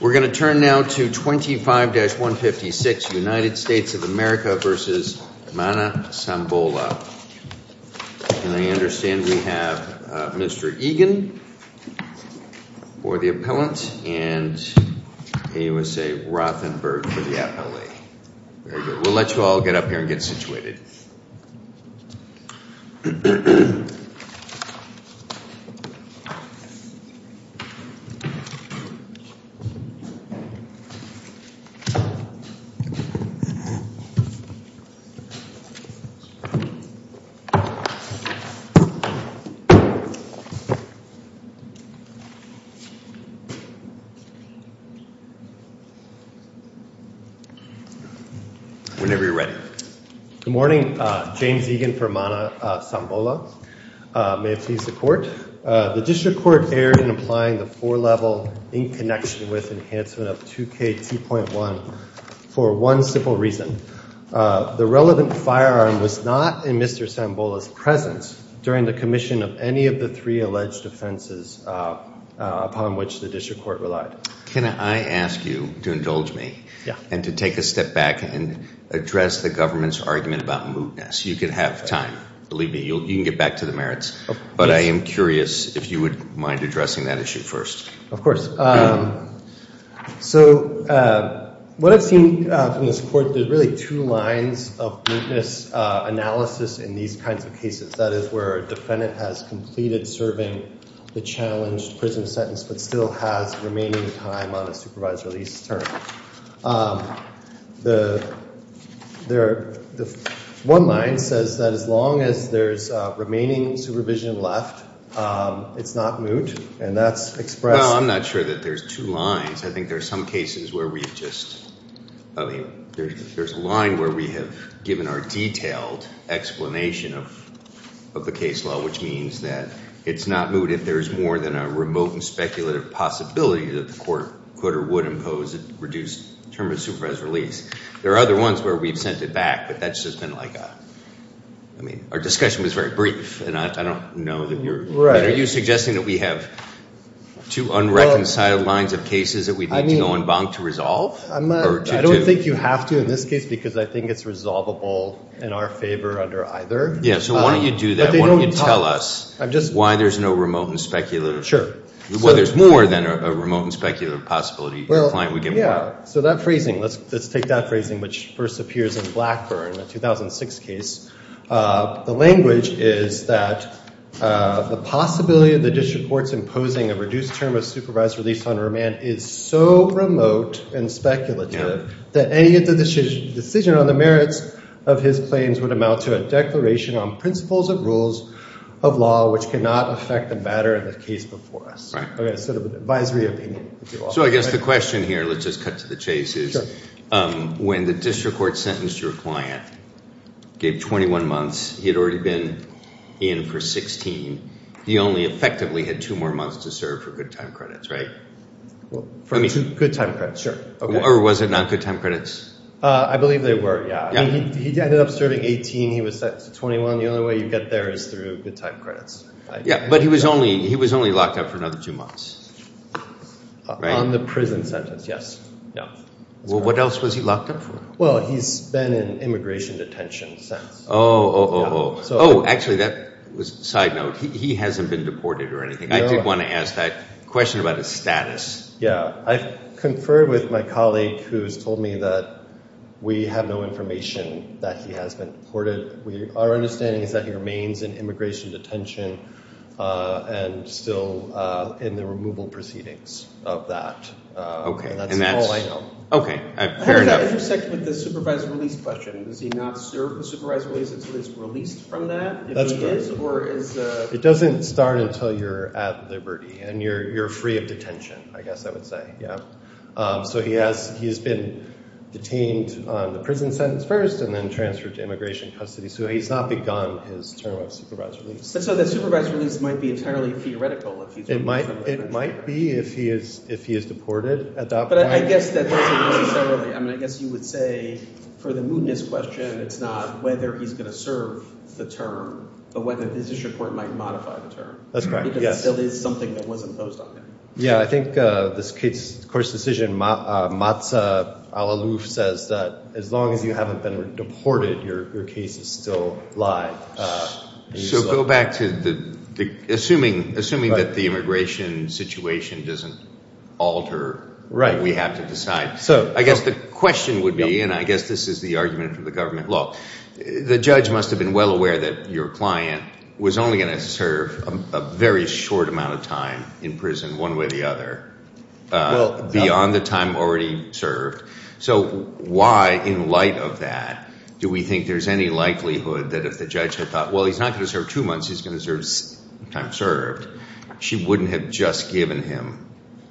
We're going to turn now to 25-156 United States of America v. Mana Sambola. And I understand we have Mr. Egan for the appellant and AUSA Rothenberg for the appellee. We'll let you all get up here and get situated. Whenever you're ready. Good morning. James Egan for Mana Sambola. May it please the court. The district court erred in applying the four-level in connection with enhancement of 2KT.1 for one simple reason. The relevant firearm was not in Mr. Sambola's presence during the commission of any of the three alleged offenses upon which the district court relied. Can I ask you to indulge me and to take a step back and address the government's argument about mootness? You can have time. Believe me, you can get back to the merits. But I am curious if you would mind addressing that issue first. Of course. So what I've seen from this court, there's really two lines of mootness analysis in these kinds of cases. That is where a defendant has completed serving the challenged prison sentence but still has remaining time on a supervised release term. The one line says that as long as there's remaining supervision left, it's not moot. And that's expressed. Well, I'm not sure that there's two lines. I think there's some cases where we've just, I mean, there's a line where we have given our detailed explanation of the case law, which means that it's not moot if there's more than a remote and speculative possibility that the court would impose a reduced term of supervised release. There are other ones where we've sent it back, but that's just been like a, I mean, our discussion was very brief. And I don't know that you're, are you suggesting that we have two unreconciled lines of cases that we need to go en banc to resolve? I don't think you have to in this case because I think it's resolvable in our favor under either. Yeah, so why don't you do that? Why don't you tell us why there's no remote and speculative? Sure. Well, there's more than a remote and speculative possibility. Well, yeah. So that phrasing, let's take that phrasing, which first appears in Blackburn, the 2006 case. The language is that the possibility of the district courts imposing a reduced term of supervised release on a remand is so remote and speculative that any decision on the merits of his claims would amount to a declaration on principles of rules of law, which cannot affect the matter of the case before us. Right. Okay, sort of an advisory opinion. So I guess the question here, let's just cut to the chase, is when the district court sentenced your client, gave 21 months, he had already been in for 16. He only effectively had two more months to serve for good time credits, right? For good time credits, sure. Or was it not good time credits? I believe they were, yeah. He ended up serving 18. He was sent to 21. The only way you get there is through good time credits. Yeah, but he was only locked up for another two months, right? On the prison sentence, yes. Well, what else was he locked up for? Well, he's been in immigration detention since. Oh, oh, oh, oh. Oh, actually, that was a side note. He hasn't been deported or anything. I did want to ask that question about his status. Yeah, I've conferred with my colleague who's told me that we have no information that he has been deported. Our understanding is that he remains in immigration detention and still in the removal proceedings of that. And that's all I know. Okay, fair enough. How does that intersect with the supervised release question? Does he not serve the supervised release until he's released from that? That's correct. If he is, or is— It doesn't start until you're at liberty, and you're free of detention, I guess I would say, yeah. So he has been detained on the prison sentence first, and then transferred to immigration custody. So he's not begun his term of supervised release. So the supervised release might be entirely theoretical if he's— It might be if he is deported at that point. But I guess that doesn't necessarily—I mean, I guess you would say for the mootness question, it's not whether he's going to serve the term, but whether the position court might modify the term. That's correct, yes. Because it still is something that was imposed on him. Yeah, I think this case, the court's decision, Matza al-Aluf says that as long as you haven't been deported, your case is still live. So go back to the—assuming that the immigration situation doesn't alter, we have to decide. I guess the question would be, and I guess this is the argument for the government law, the judge must have been well aware that your client was only going to serve a very short amount of time in prison. One way or the other, beyond the time already served. So why, in light of that, do we think there's any likelihood that if the judge had thought, well, he's not going to serve two months, he's going to serve the time served, she wouldn't have just given him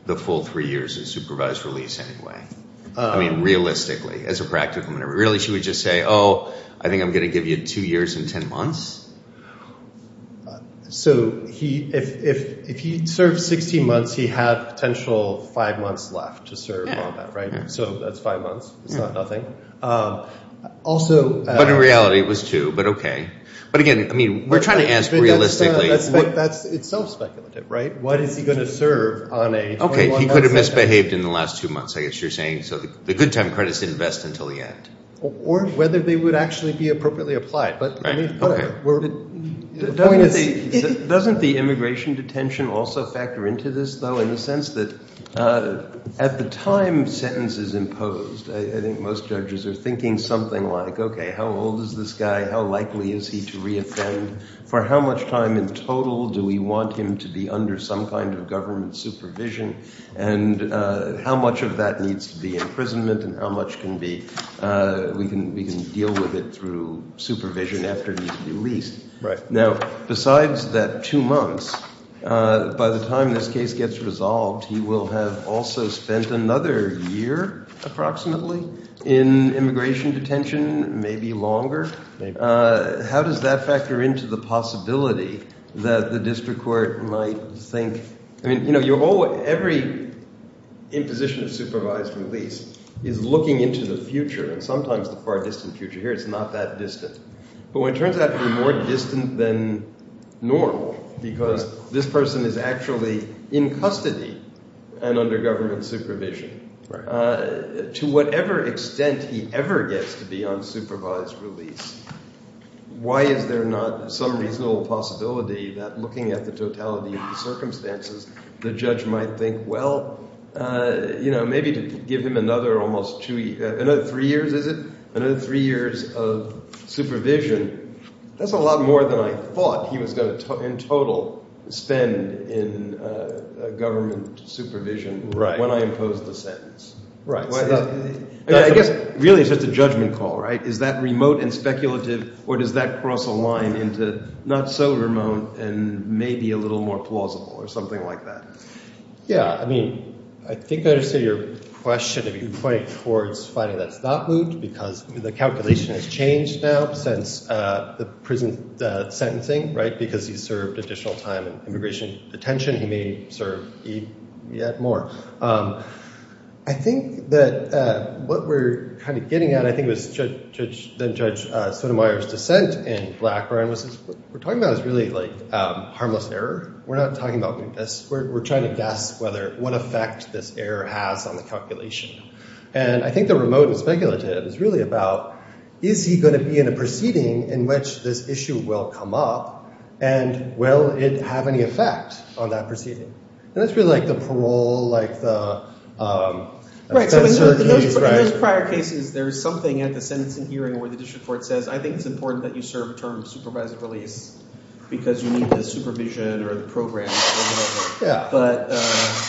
the full three years of supervised release anyway? I mean, realistically, as a practical matter. Really, she would just say, oh, I think I'm going to give you two years and 10 months? So if he served 16 months, he had potential five months left to serve on that, right? So that's five months. It's not nothing. But in reality, it was two, but okay. But again, I mean, we're trying to ask realistically— That's self-speculative, right? What is he going to serve on a 21-month sentence? Okay, he could have misbehaved in the last two months, I guess you're saying. So the good time credits didn't vest until the end. Or whether they would actually be appropriately applied. The point is, doesn't the immigration detention also factor into this, though, in the sense that at the time sentences imposed, I think most judges are thinking something like, okay, how old is this guy? How likely is he to reoffend? For how much time in total do we want him to be under some kind of government supervision? And how much of that needs to be imprisonment and how much can be—we can deal with it through supervision after he's released. Now, besides that two months, by the time this case gets resolved, he will have also spent another year approximately in immigration detention, maybe longer. How does that factor into the possibility that the district court might think— Every imposition of supervised release is looking into the future, and sometimes the far distant future. Here it's not that distant. But when it turns out to be more distant than normal because this person is actually in custody and under government supervision, to whatever extent he ever gets to be on supervised release, why is there not some reasonable possibility that looking at the totality of the circumstances, the judge might think, well, maybe to give him another almost two—another three years, is it? Another three years of supervision, that's a lot more than I thought he was going to in total spend in government supervision when I imposed the sentence. I guess really it's just a judgment call, right? Is that remote and speculative or does that cross a line into not so remote and maybe a little more plausible or something like that? Yeah. I mean, I think I understand your question. You're pointing towards finding that's not moot because the calculation has changed now since the prison sentencing, right, because he served additional time in immigration detention. He may serve yet more. I think that what we're kind of getting at, I think, was Judge Sotomayor's dissent in Blackburn was we're talking about is really like harmless error. We're not talking about mootness. We're trying to guess whether—what effect this error has on the calculation. And I think the remote and speculative is really about is he going to be in a proceeding in which this issue will come up and will it have any effect on that proceeding? And that's really like the parole, like the— Right. So in those prior cases, there's something at the sentencing hearing where the district court says, I think it's important that you serve a term of supervised release because you need the supervision or the program or whatever.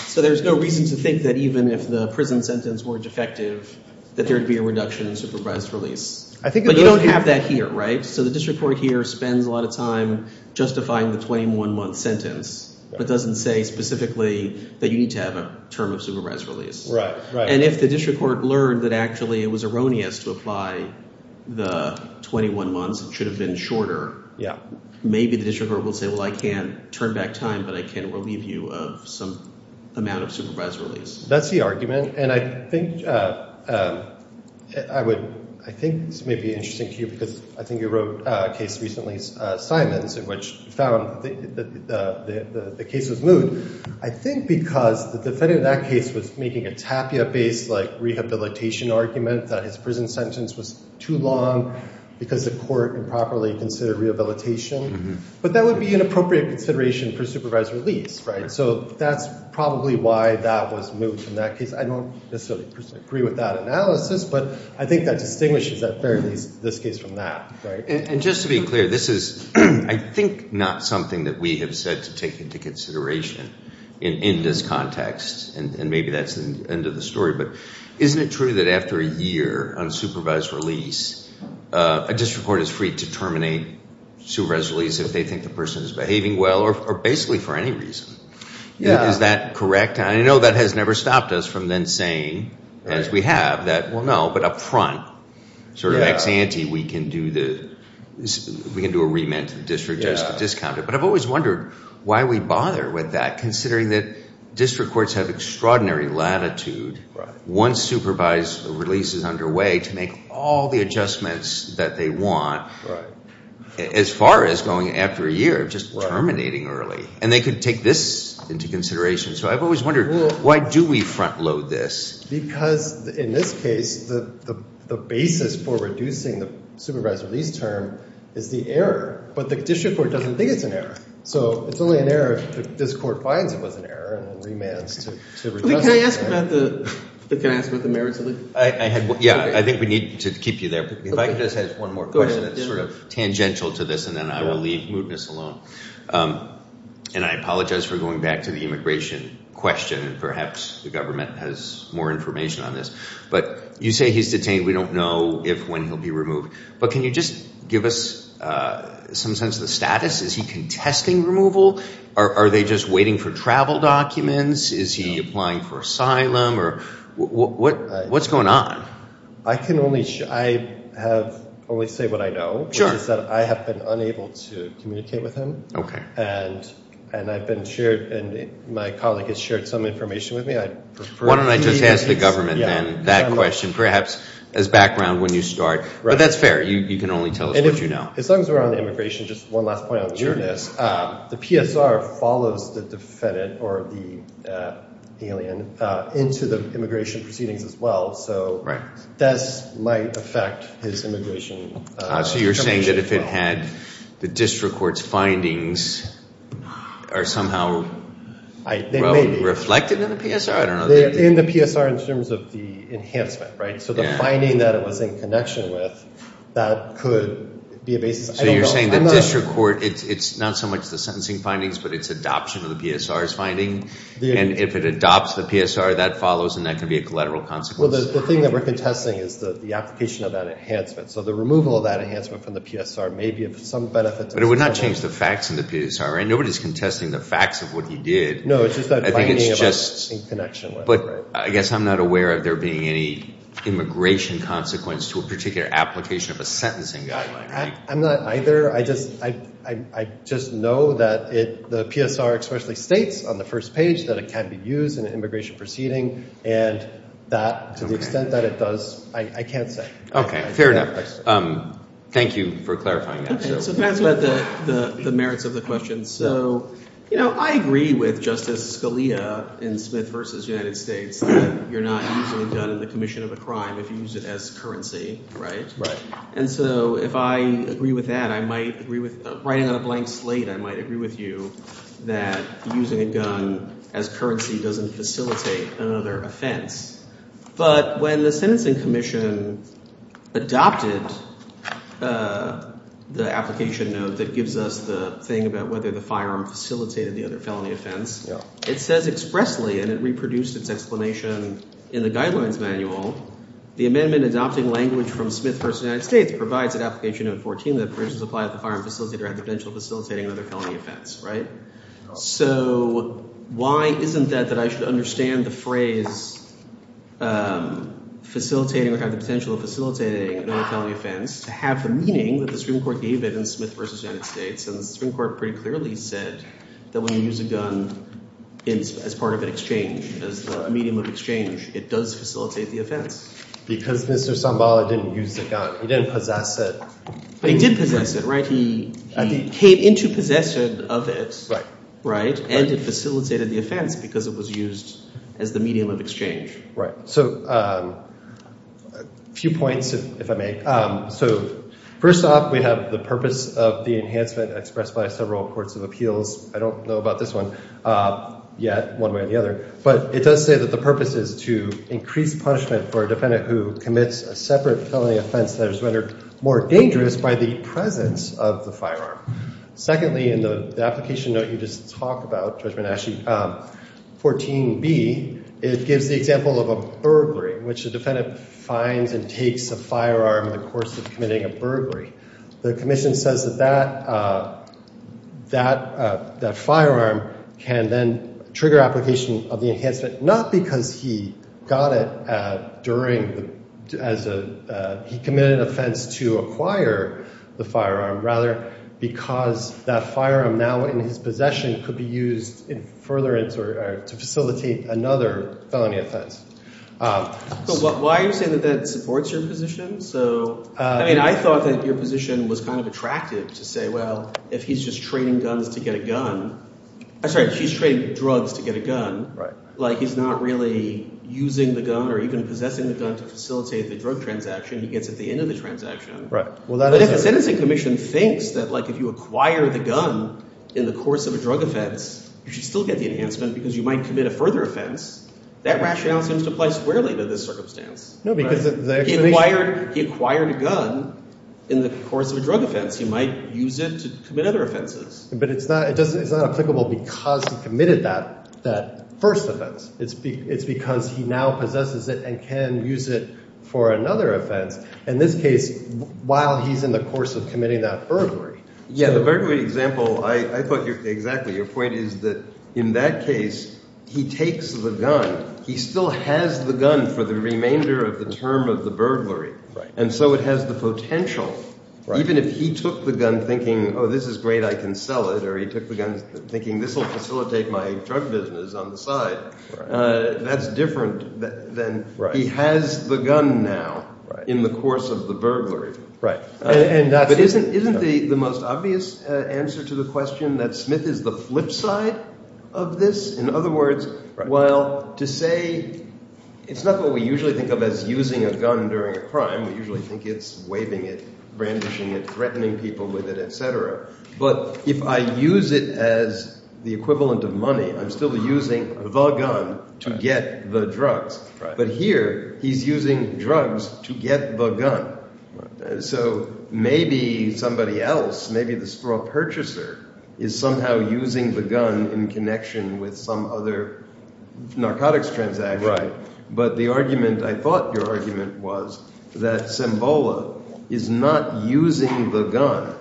So there's no reason to think that even if the prison sentence were defective, that there would be a reduction in supervised release. But you don't have that here, right? So the district court here spends a lot of time justifying the 21-month sentence but doesn't say specifically that you need to have a term of supervised release. And if the district court learned that actually it was erroneous to apply the 21 months, it should have been shorter. Maybe the district court will say, well, I can't turn back time, but I can relieve you of some amount of supervised release. That's the argument. And I think I would—I think this may be interesting to you because I think you wrote a case recently, Simons, in which you found the case was moot. I think because the defendant in that case was making a tapia-based, like, rehabilitation argument that his prison sentence was too long because the court improperly considered rehabilitation. But that would be an appropriate consideration for supervised release, right? So that's probably why that was moot in that case. I don't necessarily agree with that analysis, but I think that distinguishes at the very least this case from that, right? And just to be clear, this is I think not something that we have said to take into consideration in this context, and maybe that's the end of the story. But isn't it true that after a year on supervised release, a district court is free to terminate supervised release if they think the person is behaving well or basically for any reason? Is that correct? I know that has never stopped us from then saying, as we have, that, well, no, but up front, sort of ex ante, we can do the—we can do a remand to the district judge to discount it. But I've always wondered why we bother with that, considering that district courts have extraordinary latitude once supervised release is underway to make all the adjustments that they want as far as going after a year, just terminating early. And they could take this into consideration. So I've always wondered, why do we front load this? Because in this case, the basis for reducing the supervised release term is the error, but the district court doesn't think it's an error. So it's only an error if this court finds it was an error and remands to— Can I ask about the merits of the— Yeah, I think we need to keep you there. If I could just add one more question that's sort of tangential to this, and then I will leave mootness alone. And I apologize for going back to the immigration question, and perhaps the government has more information on this. But you say he's detained. We don't know if, when he'll be removed. But can you just give us some sense of the status? Is he contesting removal? Are they just waiting for travel documents? Is he applying for asylum? What's going on? I can only—I have only said what I know, which is that I have been unable to communicate with him. And I've been shared—my colleague has shared some information with me. Why don't I just ask the government then that question, perhaps as background when you start. But that's fair. You can only tell us what you know. As long as we're on immigration, just one last point on this. The PSR follows the defendant or the alien into the immigration proceedings as well. So this might affect his immigration— So you're saying that if it had the district court's findings are somehow reflected in the PSR? In the PSR in terms of the enhancement, right? So the finding that it was in connection with, that could be a basis. So you're saying that district court—it's not so much the sentencing findings, but it's adoption of the PSR's finding? And if it adopts the PSR, that follows and that could be a collateral consequence? Well, the thing that we're contesting is the application of that enhancement. So the removal of that enhancement from the PSR may be of some benefit to the government. But it would not change the facts in the PSR, right? Nobody's contesting the facts of what he did. No, it's just that finding about in connection with. But I guess I'm not aware of there being any immigration consequence to a particular application of a sentencing guideline. I'm not either. I just know that the PSR especially states on the first page that it can be used in an immigration proceeding. And that, to the extent that it does, I can't say. Okay, fair enough. Thank you for clarifying that. So can I ask about the merits of the question? So I agree with Justice Scalia in Smith v. United States that you're not usually done in the commission of a crime if you use it as currency, right? Right. And so if I agree with that, I might agree with writing on a blank slate, I might agree with you that using a gun as currency doesn't facilitate another offense. But when the Sentencing Commission adopted the application note that gives us the thing about whether the firearm facilitated the other felony offense. Yeah. It says expressly, and it reproduced its explanation in the Guidelines Manual, the amendment adopting language from Smith v. United States provides that application note 14, that provisions apply if the firearm facilitator had the potential of facilitating another felony offense, right? So why isn't that that I should understand the phrase facilitating or have the potential of facilitating another felony offense to have the meaning that the Supreme Court gave it in Smith v. United States? And the Supreme Court pretty clearly said that when you use a gun as part of an exchange, as a medium of exchange, it does facilitate the offense. Because Mr. Sambala didn't use the gun. He didn't possess it. But he did possess it, right? He came into possession of it. Right. And it facilitated the offense because it was used as the medium of exchange. Right. So a few points, if I may. So first off, we have the purpose of the enhancement expressed by several courts of appeals. I don't know about this one yet, one way or the other. But it does say that the purpose is to increase punishment for a defendant who commits a separate felony offense that is rendered more dangerous by the presence of the firearm. Secondly, in the application note you just talked about, Judge Menaschi, 14b, it gives the example of a burglary, which the defendant finds and takes a firearm in the course of committing a burglary. The commission says that that firearm can then trigger application of the enhancement, not because he committed an offense to acquire the firearm, rather because that firearm now in his possession could be used in furtherance or to facilitate another felony offense. So why are you saying that that supports your position? I mean, I thought that your position was kind of attractive to say, well, if he's just trading guns to get a gun – I'm sorry. If he's trading drugs to get a gun, like he's not really using the gun or even possessing the gun to facilitate the drug transaction. He gets at the end of the transaction. But if the sentencing commission thinks that, like, if you acquire the gun in the course of a drug offense, you should still get the enhancement because you might commit a further offense. That rationale seems to apply squarely to this circumstance. No, because – He acquired a gun in the course of a drug offense. He might use it to commit other offenses. But it's not applicable because he committed that first offense. It's because he now possesses it and can use it for another offense. In this case, while he's in the course of committing that burglary. Yeah, the burglary example I thought – exactly. Your point is that in that case, he takes the gun. He still has the gun for the remainder of the term of the burglary. And so it has the potential. Even if he took the gun thinking, oh, this is great, I can sell it, or he took the gun thinking this will facilitate my drug business on the side, that's different than he has the gun now in the course of the burglary. Right. But isn't the most obvious answer to the question that Smith is the flip side of this? In other words, while to say – it's not what we usually think of as using a gun during a crime. We usually think it's waving it, brandishing it, threatening people with it, et cetera. But if I use it as the equivalent of money, I'm still using the gun to get the drugs. But here he's using drugs to get the gun. So maybe somebody else, maybe the store purchaser is somehow using the gun in connection with some other narcotics transaction. But the argument – I thought your argument was that Sembola is not using the gun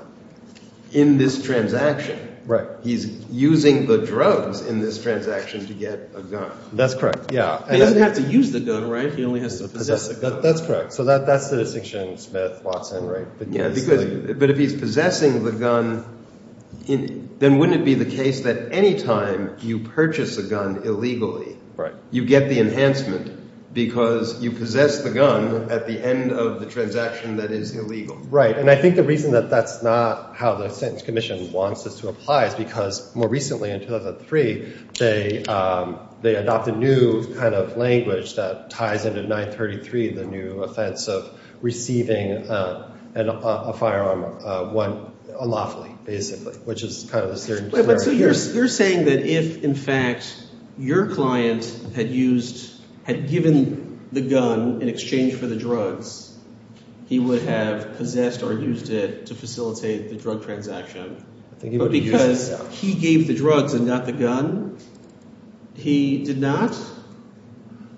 in this transaction. Right. He's using the drugs in this transaction to get a gun. That's correct. Yeah. He doesn't have to use the gun, right? He only has to possess the gun. That's correct. So that's the distinction Smith walks in, right? But if he's possessing the gun, then wouldn't it be the case that any time you purchase a gun illegally – Right. – you get the enhancement because you possess the gun at the end of the transaction that is illegal? Right. And I think the reason that that's not how the Sentence Commission wants this to apply is because more recently, in 2003, they adopted a new kind of language that ties into 933, the new offense of receiving a firearm unlawfully basically, which is kind of a – So you're saying that if, in fact, your client had used – had given the gun in exchange for the drugs, he would have possessed or used it to facilitate the drug transaction. I think he would have used it. Because he gave the drugs and not the gun? He did not?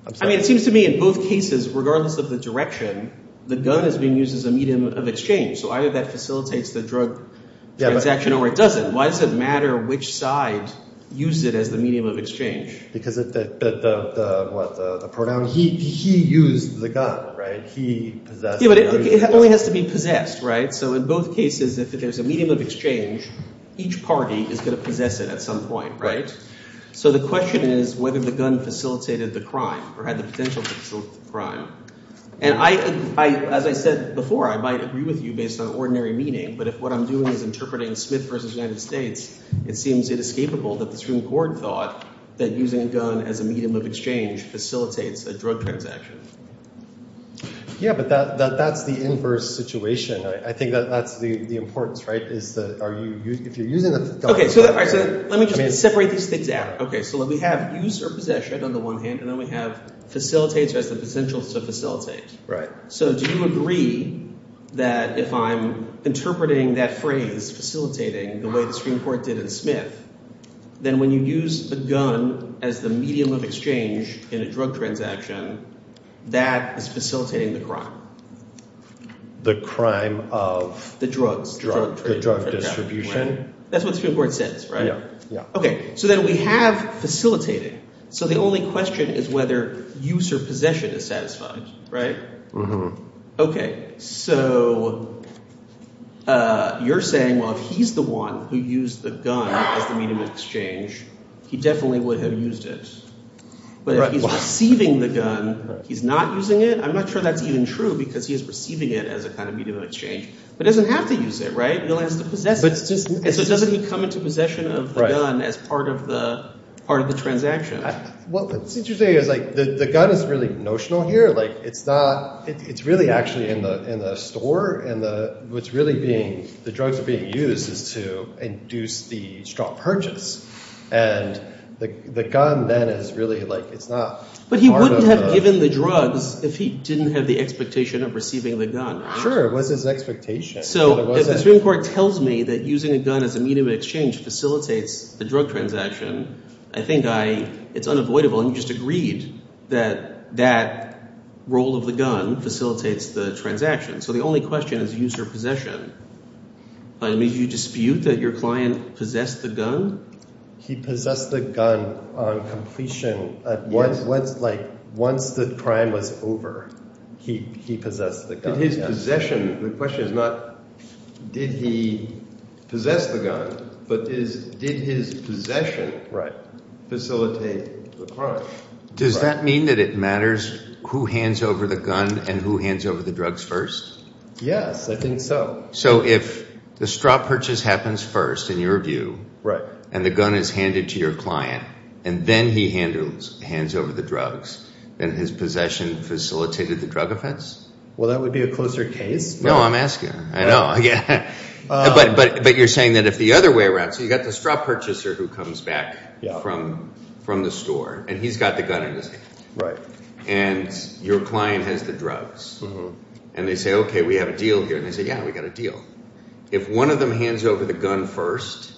I'm sorry? I mean it seems to me in both cases, regardless of the direction, the gun is being used as a medium of exchange. So either that facilitates the drug transaction or it doesn't. Why does it matter which side used it as the medium of exchange? Because the – what? The pronoun? He used the gun, right? He possessed the gun. Yeah, but it only has to be possessed, right? So in both cases, if there's a medium of exchange, each party is going to possess it at some point, right? So the question is whether the gun facilitated the crime or had the potential to facilitate the crime. And I – as I said before, I might agree with you based on ordinary meaning, but if what I'm doing is interpreting Smith v. United States, it seems inescapable that the Supreme Court thought that using a gun as a medium of exchange facilitates a drug transaction. Yeah, but that's the inverse situation. I think that's the importance, right? Is the – are you – if you're using the gun – Okay, so let me just separate these things out. Okay, so we have use or possession on the one hand, and then we have facilitates or has the potential to facilitate. Right. So do you agree that if I'm interpreting that phrase, facilitating, the way the Supreme Court did in Smith, then when you use a gun as the medium of exchange in a drug transaction, that is facilitating the crime? The crime of – The drugs. The drug distribution. That's what the Supreme Court says, right? Okay, so then we have facilitating. So the only question is whether use or possession is satisfied, right? Mm-hmm. Okay, so you're saying, well, if he's the one who used the gun as the medium of exchange, he definitely would have used it. Right. He's receiving the gun. He's not using it. I'm not sure that's even true because he is receiving it as a kind of medium of exchange, but doesn't have to use it, right? He only has to possess it. So doesn't he come into possession of the gun as part of the transaction? What's interesting is, like, the gun is really notional here. Like, it's not – it's really actually in the store, and what's really being – the drugs are being used is to induce the strong purchase. And the gun then is really, like – it's not part of the – But he wouldn't have given the drugs if he didn't have the expectation of receiving the gun. Sure. It was his expectation. So if the Supreme Court tells me that using a gun as a medium of exchange facilitates the drug transaction, I think I – it's unavoidable. And you just agreed that that role of the gun facilitates the transaction. So the only question is use or possession. I mean, do you dispute that your client possessed the gun? He possessed the gun on completion – like, once the crime was over, he possessed the gun. His possession – the question is not did he possess the gun, but is – did his possession facilitate the crime? Does that mean that it matters who hands over the gun and who hands over the drugs first? Yes, I think so. So if the strong purchase happens first, in your view, and the gun is handed to your client, and then he hands over the drugs, then his possession facilitated the drug offense? Well, that would be a closer case. No, I'm asking. I know. But you're saying that if the other way around – so you've got the strong purchaser who comes back from the store, and he's got the gun in his hand. Right. And your client has the drugs. And they say, OK, we have a deal here. And they say, yeah, we've got a deal. If one of them hands over the gun first,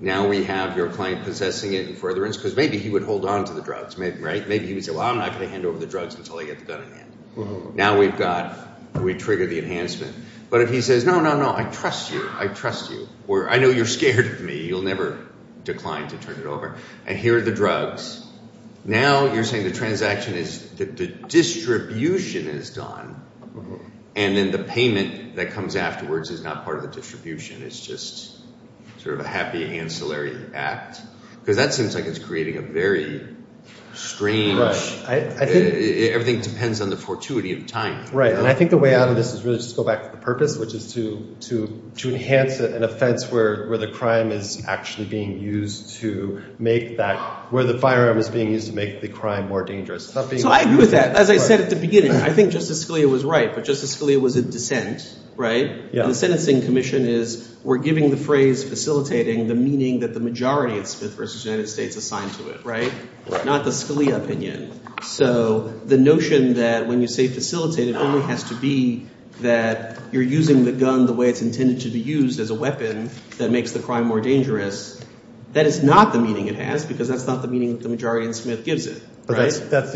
now we have your client possessing it in furtherance because maybe he would hold on to the drugs, right? Maybe he would say, well, I'm not going to hand over the drugs until I get the gun in my hand. Now we've got – we trigger the enhancement. But if he says, no, no, no, I trust you. I trust you. Or I know you're scared of me. You'll never decline to turn it over. And here are the drugs. Now you're saying the transaction is – the distribution is done, and then the payment that comes afterwards is not part of the distribution. It's just sort of a happy ancillary act because that seems like it's creating a very strange – everything depends on the fortuity of time. Right, and I think the way out of this is really just to go back to the purpose, which is to enhance an offense where the crime is actually being used to make that – where the firearm is being used to make the crime more dangerous. So I agree with that. As I said at the beginning, I think Justice Scalia was right, but Justice Scalia was in dissent, right? The sentencing commission is – we're giving the phrase facilitating the meaning that the majority of Smith v. United States assigned to it, right? Not the Scalia opinion. So the notion that when you say facilitate, it only has to be that you're using the gun the way it's intended to be used as a weapon that makes the crime more dangerous. That is not the meaning it has because that's not the meaning that the majority in Smith gives it, right? That's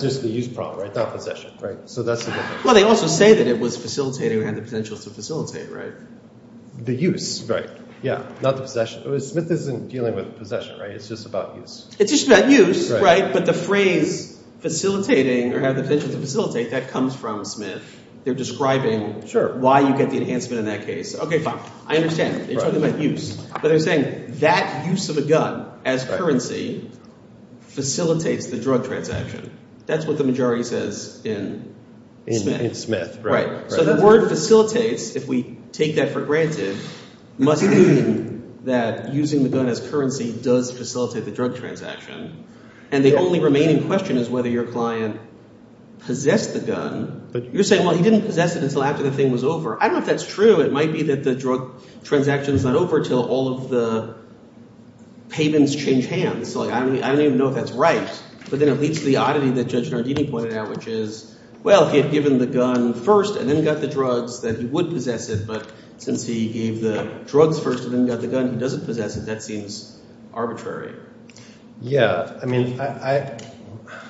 just the use problem, right? Not possession, right? So that's the difference. Well, they also say that it was facilitating or had the potential to facilitate, right? The use, right. Yeah, not the possession. Smith isn't dealing with possession, right? It's just about use. It's just about use, right? But the phrase facilitating or had the potential to facilitate, that comes from Smith. They're describing why you get the enhancement in that case. Okay, fine. I understand. They're talking about use. But they're saying that use of a gun as currency facilitates the drug transaction. That's what the majority says in Smith. In Smith, right. So the word facilitates, if we take that for granted, must mean that using the gun as currency does facilitate the drug transaction. And the only remaining question is whether your client possessed the gun. You're saying, well, he didn't possess it until after the thing was over. I don't know if that's true. It might be that the drug transaction is not over until all of the pavements change hands. So I don't even know if that's right. But then it leads to the oddity that Judge Nardini pointed out, which is, well, he had given the gun first and then got the drugs, then he would possess it. But since he gave the drugs first and then got the gun, he doesn't possess it. That seems arbitrary. Yeah. I mean,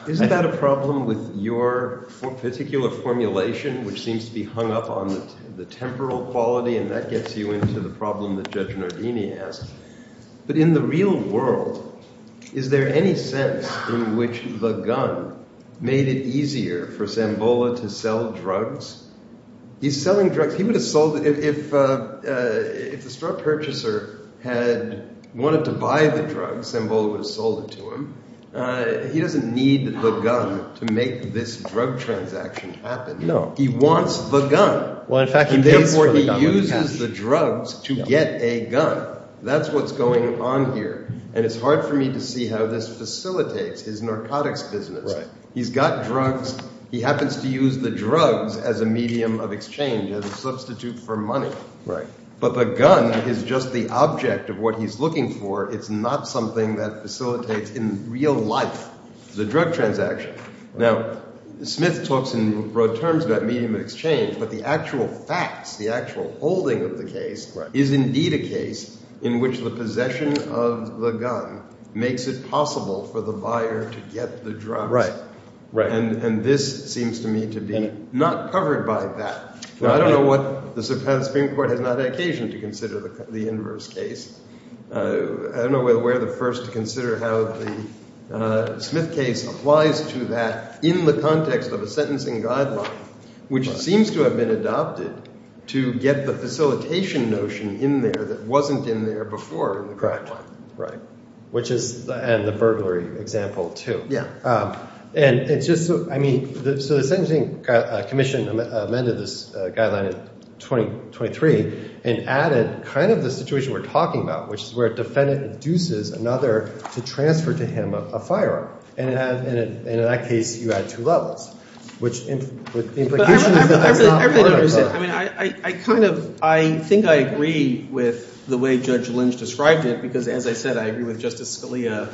isn't that a problem with your particular formulation, which seems to be hung up on the temporal quality? And that gets you into the problem that Judge Nardini asked. But in the real world, is there any sense in which the gun made it easier for Zambola to sell drugs? He's selling drugs. He would have sold it. If the straw purchaser had wanted to buy the drugs, Zambola would have sold it to him. He doesn't need the gun to make this drug transaction happen. He wants the gun. Well, in fact, he pays for the gun. He uses the drugs to get a gun. That's what's going on here. And it's hard for me to see how this facilitates his narcotics business. Right. He's got drugs. He happens to use the drugs as a medium of exchange, as a substitute for money. But the gun is just the object of what he's looking for. It's not something that facilitates in real life the drug transaction. Now, Smith talks in broad terms about medium of exchange, but the actual facts, the actual holding of the case, is indeed a case in which the possession of the gun makes it possible for the buyer to get the drugs. Right. And this seems to me to be not covered by that. Now, I don't know what – the Supreme Court has not had occasion to consider the inverse case. I don't know whether we're the first to consider how the Smith case applies to that in the context of a sentencing guideline, which seems to have been adopted to get the facilitation notion in there that wasn't in there before in the guideline. Right. Which is – and the burglary example, too. Yeah. And it's just – I mean, so the sentencing commission amended this guideline in 2023 and added kind of the situation we're talking about, which is where a defendant induces another to transfer to him a firearm. And in that case, you add two levels, which – But I really don't understand. I mean, I kind of – I think I agree with the way Judge Lynch described it because, as I said, I agree with Justice Scalia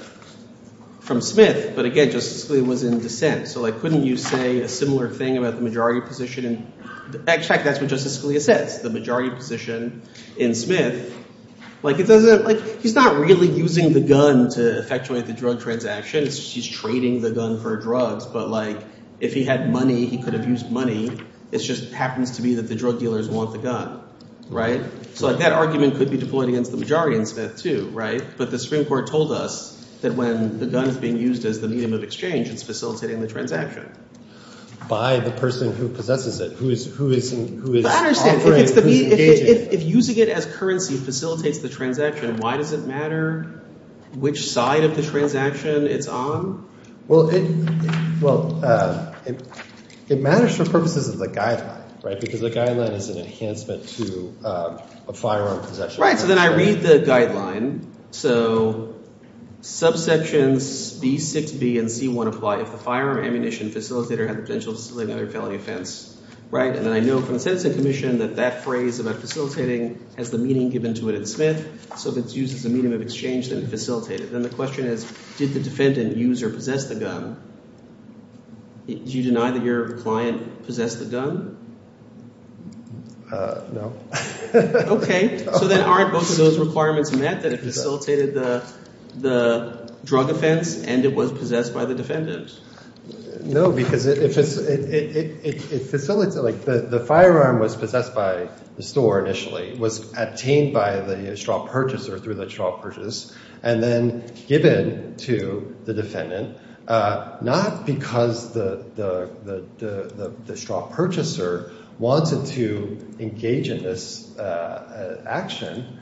from Smith. But again, Justice Scalia was in dissent. So couldn't you say a similar thing about the majority position in – in fact, that's what Justice Scalia says, the majority position in Smith. Like it doesn't – like he's not really using the gun to effectuate the drug transaction. He's trading the gun for drugs. But, like, if he had money, he could have used money. It just happens to be that the drug dealers want the gun. Right? So that argument could be deployed against the majority in Smith, too. Right? But the Supreme Court told us that when the gun is being used as the medium of exchange, it's facilitating the transaction. By the person who possesses it, who is offering – who is engaging. If using it as currency facilitates the transaction, why does it matter which side of the transaction it's on? Well, it – well, it matters for purposes of the guideline because the guideline is an enhancement to a firearm possession. Right. So then I read the guideline. So subsections B6b and C1 apply. If the firearm ammunition facilitator has the potential to facilitate another felony offense. Right? And then I know from the Sentencing Commission that that phrase about facilitating has the meaning given to it in Smith. So if it's used as a medium of exchange, then it facilitated. Then the question is did the defendant use or possess the gun? Do you deny that your client possessed the gun? No. Okay. So then aren't both of those requirements met, that it facilitated the drug offense and it was possessed by the defendant? No, because it facilitates – like the firearm was possessed by the store initially. It was obtained by the straw purchaser through the straw purchase and then given to the defendant, not because the straw purchaser wanted to engage in this action.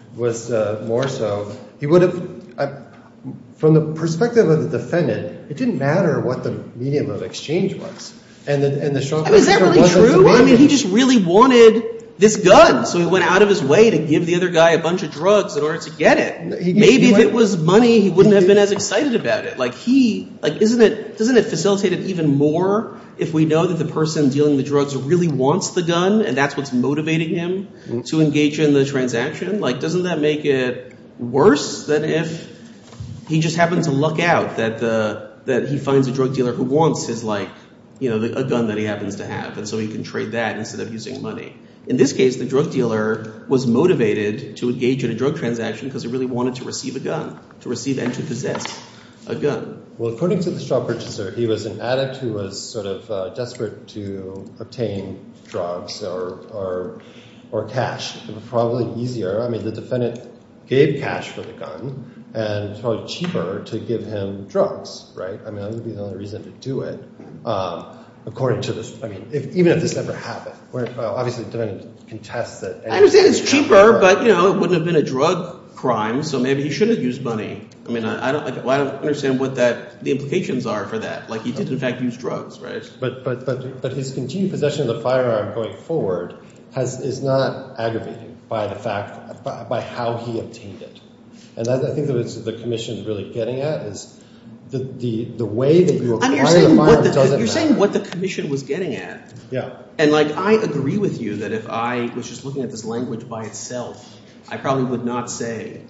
From the perspective of the defendant, it didn't matter what the medium of exchange was. I mean, is that really true? I mean, he just really wanted this gun. So he went out of his way to give the other guy a bunch of drugs in order to get it. Maybe if it was money, he wouldn't have been as excited about it. Like he – like doesn't it facilitate it even more if we know that the person dealing the drugs really wants the gun and that's what's motivating him to engage in the transaction? Like doesn't that make it worse than if he just happens to luck out that he finds a drug dealer who wants his like – a gun that he happens to have and so he can trade that instead of using money? In this case, the drug dealer was motivated to engage in a drug transaction because he really wanted to receive a gun, to receive and to possess a gun. Well, according to the straw purchaser, he was an addict who was sort of desperate to obtain drugs or cash. It would probably be easier – I mean the defendant gave cash for the gun and it's probably cheaper to give him drugs, right? I mean that would be the only reason to do it according to this – I mean even if this never happened. Well, obviously the defendant contests that – I understand it's cheaper, but it wouldn't have been a drug crime, so maybe he shouldn't have used money. I mean I don't – I don't understand what that – the implications are for that. Like he did in fact use drugs, right? But his continued possession of the firearm going forward is not aggravating by the fact – by how he obtained it. And I think that's what the commission is really getting at is the way that you acquire the firearm doesn't matter. I mean you're saying what the commission was getting at. Yeah. And like I agree with you that if I was just looking at this language by itself, I probably would not say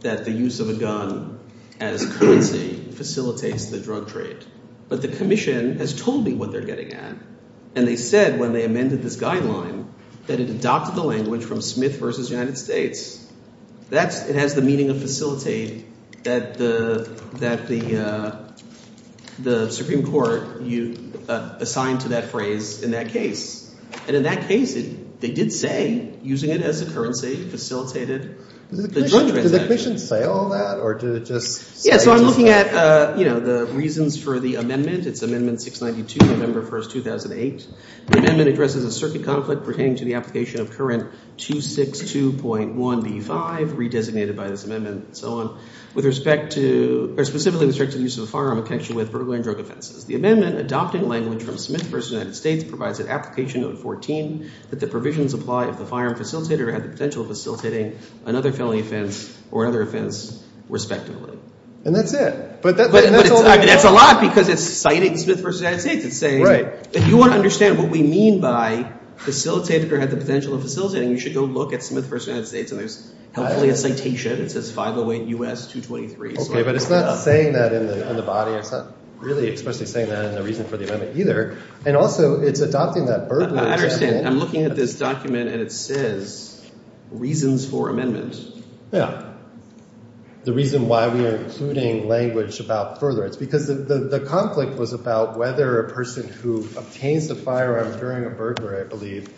that the use of a gun as currency facilitates the drug trade. But the commission has told me what they're getting at, and they said when they amended this guideline that it adopted the language from Smith v. United States. That's – it has the meaning of facilitate that the Supreme Court assigned to that phrase in that case. And in that case, they did say using it as a currency facilitated the drug trade. Did the commission say all that or did it just say – Yeah, so I'm looking at the reasons for the amendment. It's Amendment 692, November 1, 2008. The amendment addresses a circuit conflict pertaining to the application of current 262.1b5, re-designated by this amendment and so on, with respect to – or specifically with respect to the use of a firearm in connection with burglary and drug offenses. The amendment adopting language from Smith v. United States provides an application, note 14, that the provisions apply if the firearm facilitator had the potential of facilitating another felony offense or another offense, respectively. And that's it. But that's a lot because it's citing Smith v. United States. It's saying – If you want to understand what we mean by facilitator had the potential of facilitating, you should go look at Smith v. United States, and there's hopefully a citation. It says 508 U.S. 223. Okay, but it's not saying that in the body. It's not really expressly saying that in the reason for the amendment either. And also, it's adopting that burglary example. I understand. I'm looking at this document, and it says reasons for amendment. Yeah. The reason why we are including language about furtherance, because the conflict was about whether a person who obtains the firearm during a burglary, I believe,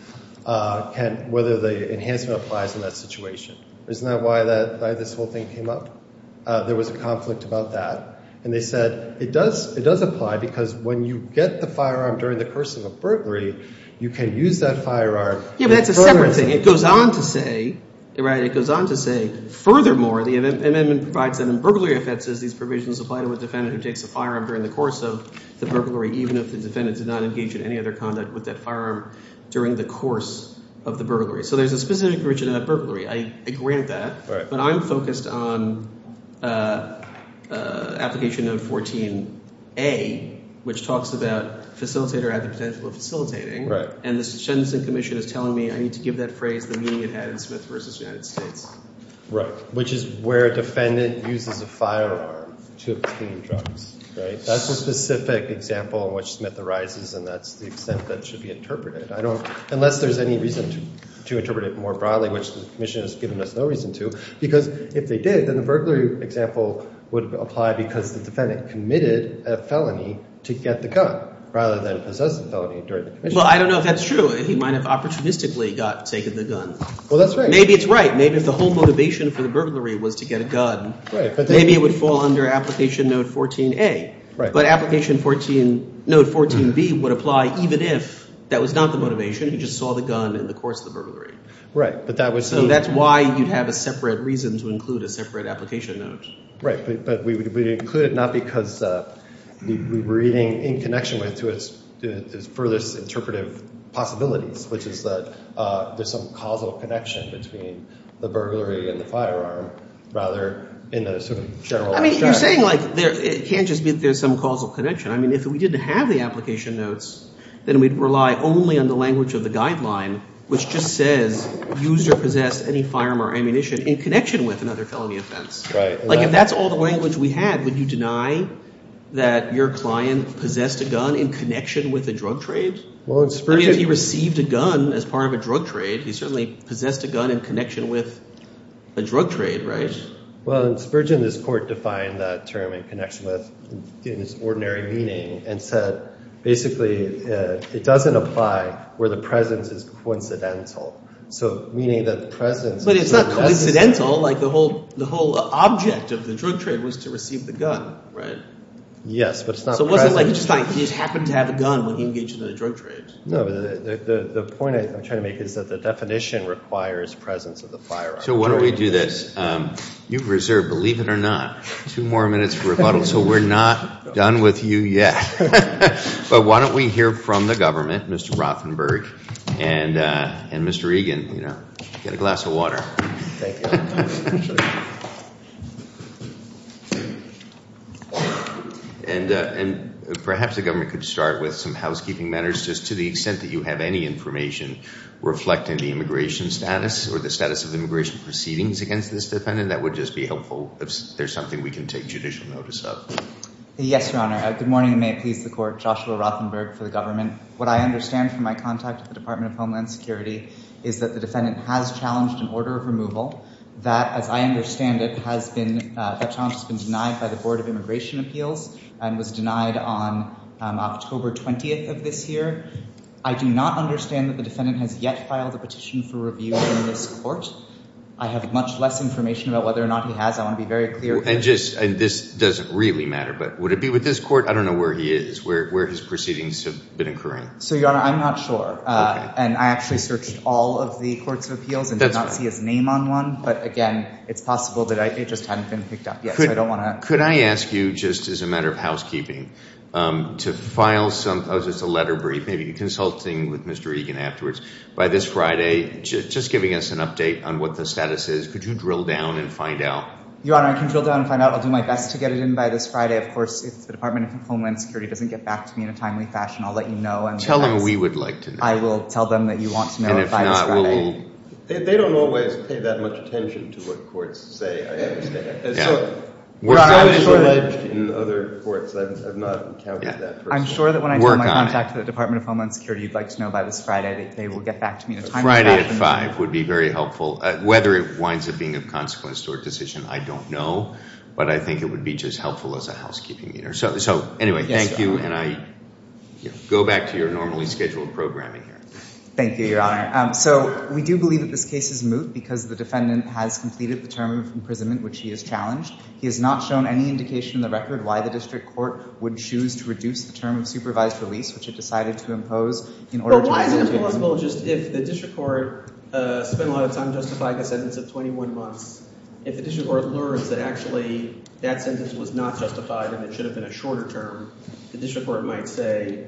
can – whether the enhancement applies in that situation. Isn't that why this whole thing came up? There was a conflict about that. And they said it does apply because when you get the firearm during the cursing of burglary, you can use that firearm in furtherance. Yeah, but that's a separate thing. It goes on to say, right, it goes on to say, furthermore, the amendment provides that in burglary offenses, these provisions apply to a defendant who takes a firearm during the course of the burglary, even if the defendant did not engage in any other conduct with that firearm during the course of the burglary. So there's a specific region of that burglary. I agree with that, but I'm focused on application of 14A, which talks about facilitator at the potential of facilitating, and the sentencing commission is telling me I need to give that phrase the meaning it had in Smith v. United States. Right, which is where a defendant uses a firearm to obtain drugs. That's a specific example in which Smith arises, and that's the extent that should be interpreted. I don't – unless there's any reason to interpret it more broadly, which the commission has given us no reason to, because if they did, then the burglary example would apply because the defendant committed a felony to get the gun rather than possess the felony during the commission. Well, I don't know if that's true. He might have opportunistically got – taken the gun. Well, that's right. Maybe it's right. Maybe if the whole motivation for the burglary was to get a gun, maybe it would fall under application note 14A. But application 14 – note 14B would apply even if that was not the motivation. He just saw the gun in the course of the burglary. Right, but that was – So that's why you'd have a separate reason to include a separate application note. Right, but we would include it not because we were reading in connection with to its furthest interpretive possibilities, which is that there's some causal connection between the burglary and the firearm, rather in the sort of general direction. I mean you're saying like there – it can't just be that there's some causal connection. I mean if we didn't have the application notes, then we'd rely only on the language of the guideline, which just says user possessed any firearm or ammunition in connection with another felony offense. Right. Like if that's all the language we had, would you deny that your client possessed a gun in connection with a drug trade? Well, in Spurgeon – I mean if he received a gun as part of a drug trade, he certainly possessed a gun in connection with a drug trade, right? Well, in Spurgeon, this court defined that term in connection with – in its ordinary meaning and said basically it doesn't apply where the presence is coincidental. So meaning that the presence – But it's not coincidental. Like the whole object of the drug trade was to receive the gun, right? Yes, but it's not present. So it wasn't like he just happened to have a gun when he engaged in a drug trade. No, but the point I'm trying to make is that the definition requires presence of the firearm. So why don't we do this? You've reserved, believe it or not, two more minutes for rebuttal, so we're not done with you yet. But why don't we hear from the government, Mr. Rothenberg and Mr. Egan. Get a glass of water. Thank you. And perhaps the government could start with some housekeeping matters just to the extent that you have any information reflecting the immigration status or the status of immigration proceedings against this defendant. That would just be helpful if there's something we can take judicial notice of. Yes, Your Honor. Good morning, and may it please the court. Joshua Rothenberg for the government. What I understand from my contact with the Department of Homeland Security is that the defendant has challenged an order of removal. That, as I understand it, has been – that challenge has been denied by the Board of Immigration Appeals and was denied on October 20th of this year. I do not understand that the defendant has yet filed a petition for review in this court. I have much less information about whether or not he has. I want to be very clear. And just – and this doesn't really matter, but would it be with this court? I don't know where he is, where his proceedings have been occurring. So, Your Honor, I'm not sure. Okay. And I actually searched all of the courts of appeals and did not see his name on one. But, again, it's possible that it just hadn't been picked up yet, so I don't want to – Could I ask you, just as a matter of housekeeping, to file some – oh, it's just a letter brief, maybe consulting with Mr. Egan afterwards. By this Friday, just giving us an update on what the status is, could you drill down and find out? Your Honor, I can drill down and find out. I'll do my best to get it in by this Friday. Of course, if the Department of Homeland Security doesn't get back to me in a timely fashion, I'll let you know. Tell them we would like to know. I will tell them that you want to know by this Friday. And if not, we'll – They don't always pay that much attention to what courts say, I understand. We're always alleged in other courts. I've not encountered that person. I'm sure that when I tell my contact to the Department of Homeland Security you'd like to know by this Friday, they will get back to me in a timely fashion. Friday at 5 would be very helpful. Whether it winds up being of consequence to a decision, I don't know, but I think it would be just helpful as a housekeeping matter. So anyway, thank you, and I go back to your normally scheduled programming here. Thank you, Your Honor. So we do believe that this case is moot because the defendant has completed the term of imprisonment, which he has challenged. He has not shown any indication in the record why the district court would choose to reduce the term of supervised release, which it decided to impose in order to – Why is it possible just if the district court spent a lot of time justifying a sentence of 21 months, if the district court learns that actually that sentence was not justified and it should have been a shorter term, the district court might say,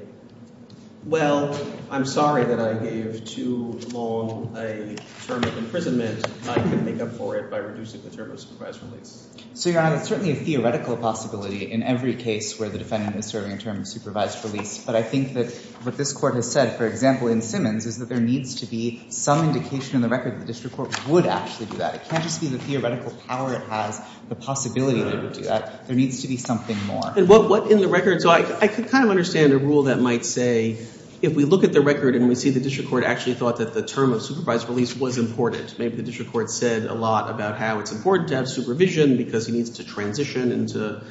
well, I'm sorry that I gave too long a term of imprisonment. I can make up for it by reducing the term of supervised release. So, Your Honor, it's certainly a theoretical possibility in every case where the defendant is serving a term of supervised release. But I think that what this court has said, for example, in Simmons, is that there needs to be some indication in the record that the district court would actually do that. It can't just be the theoretical power it has, the possibility that it would do that. There needs to be something more. And what in the record – so I could kind of understand a rule that might say if we look at the record and we see the district court actually thought that the term of supervised release was important. Maybe the district court said a lot about how it's important to have supervision because he needs to transition into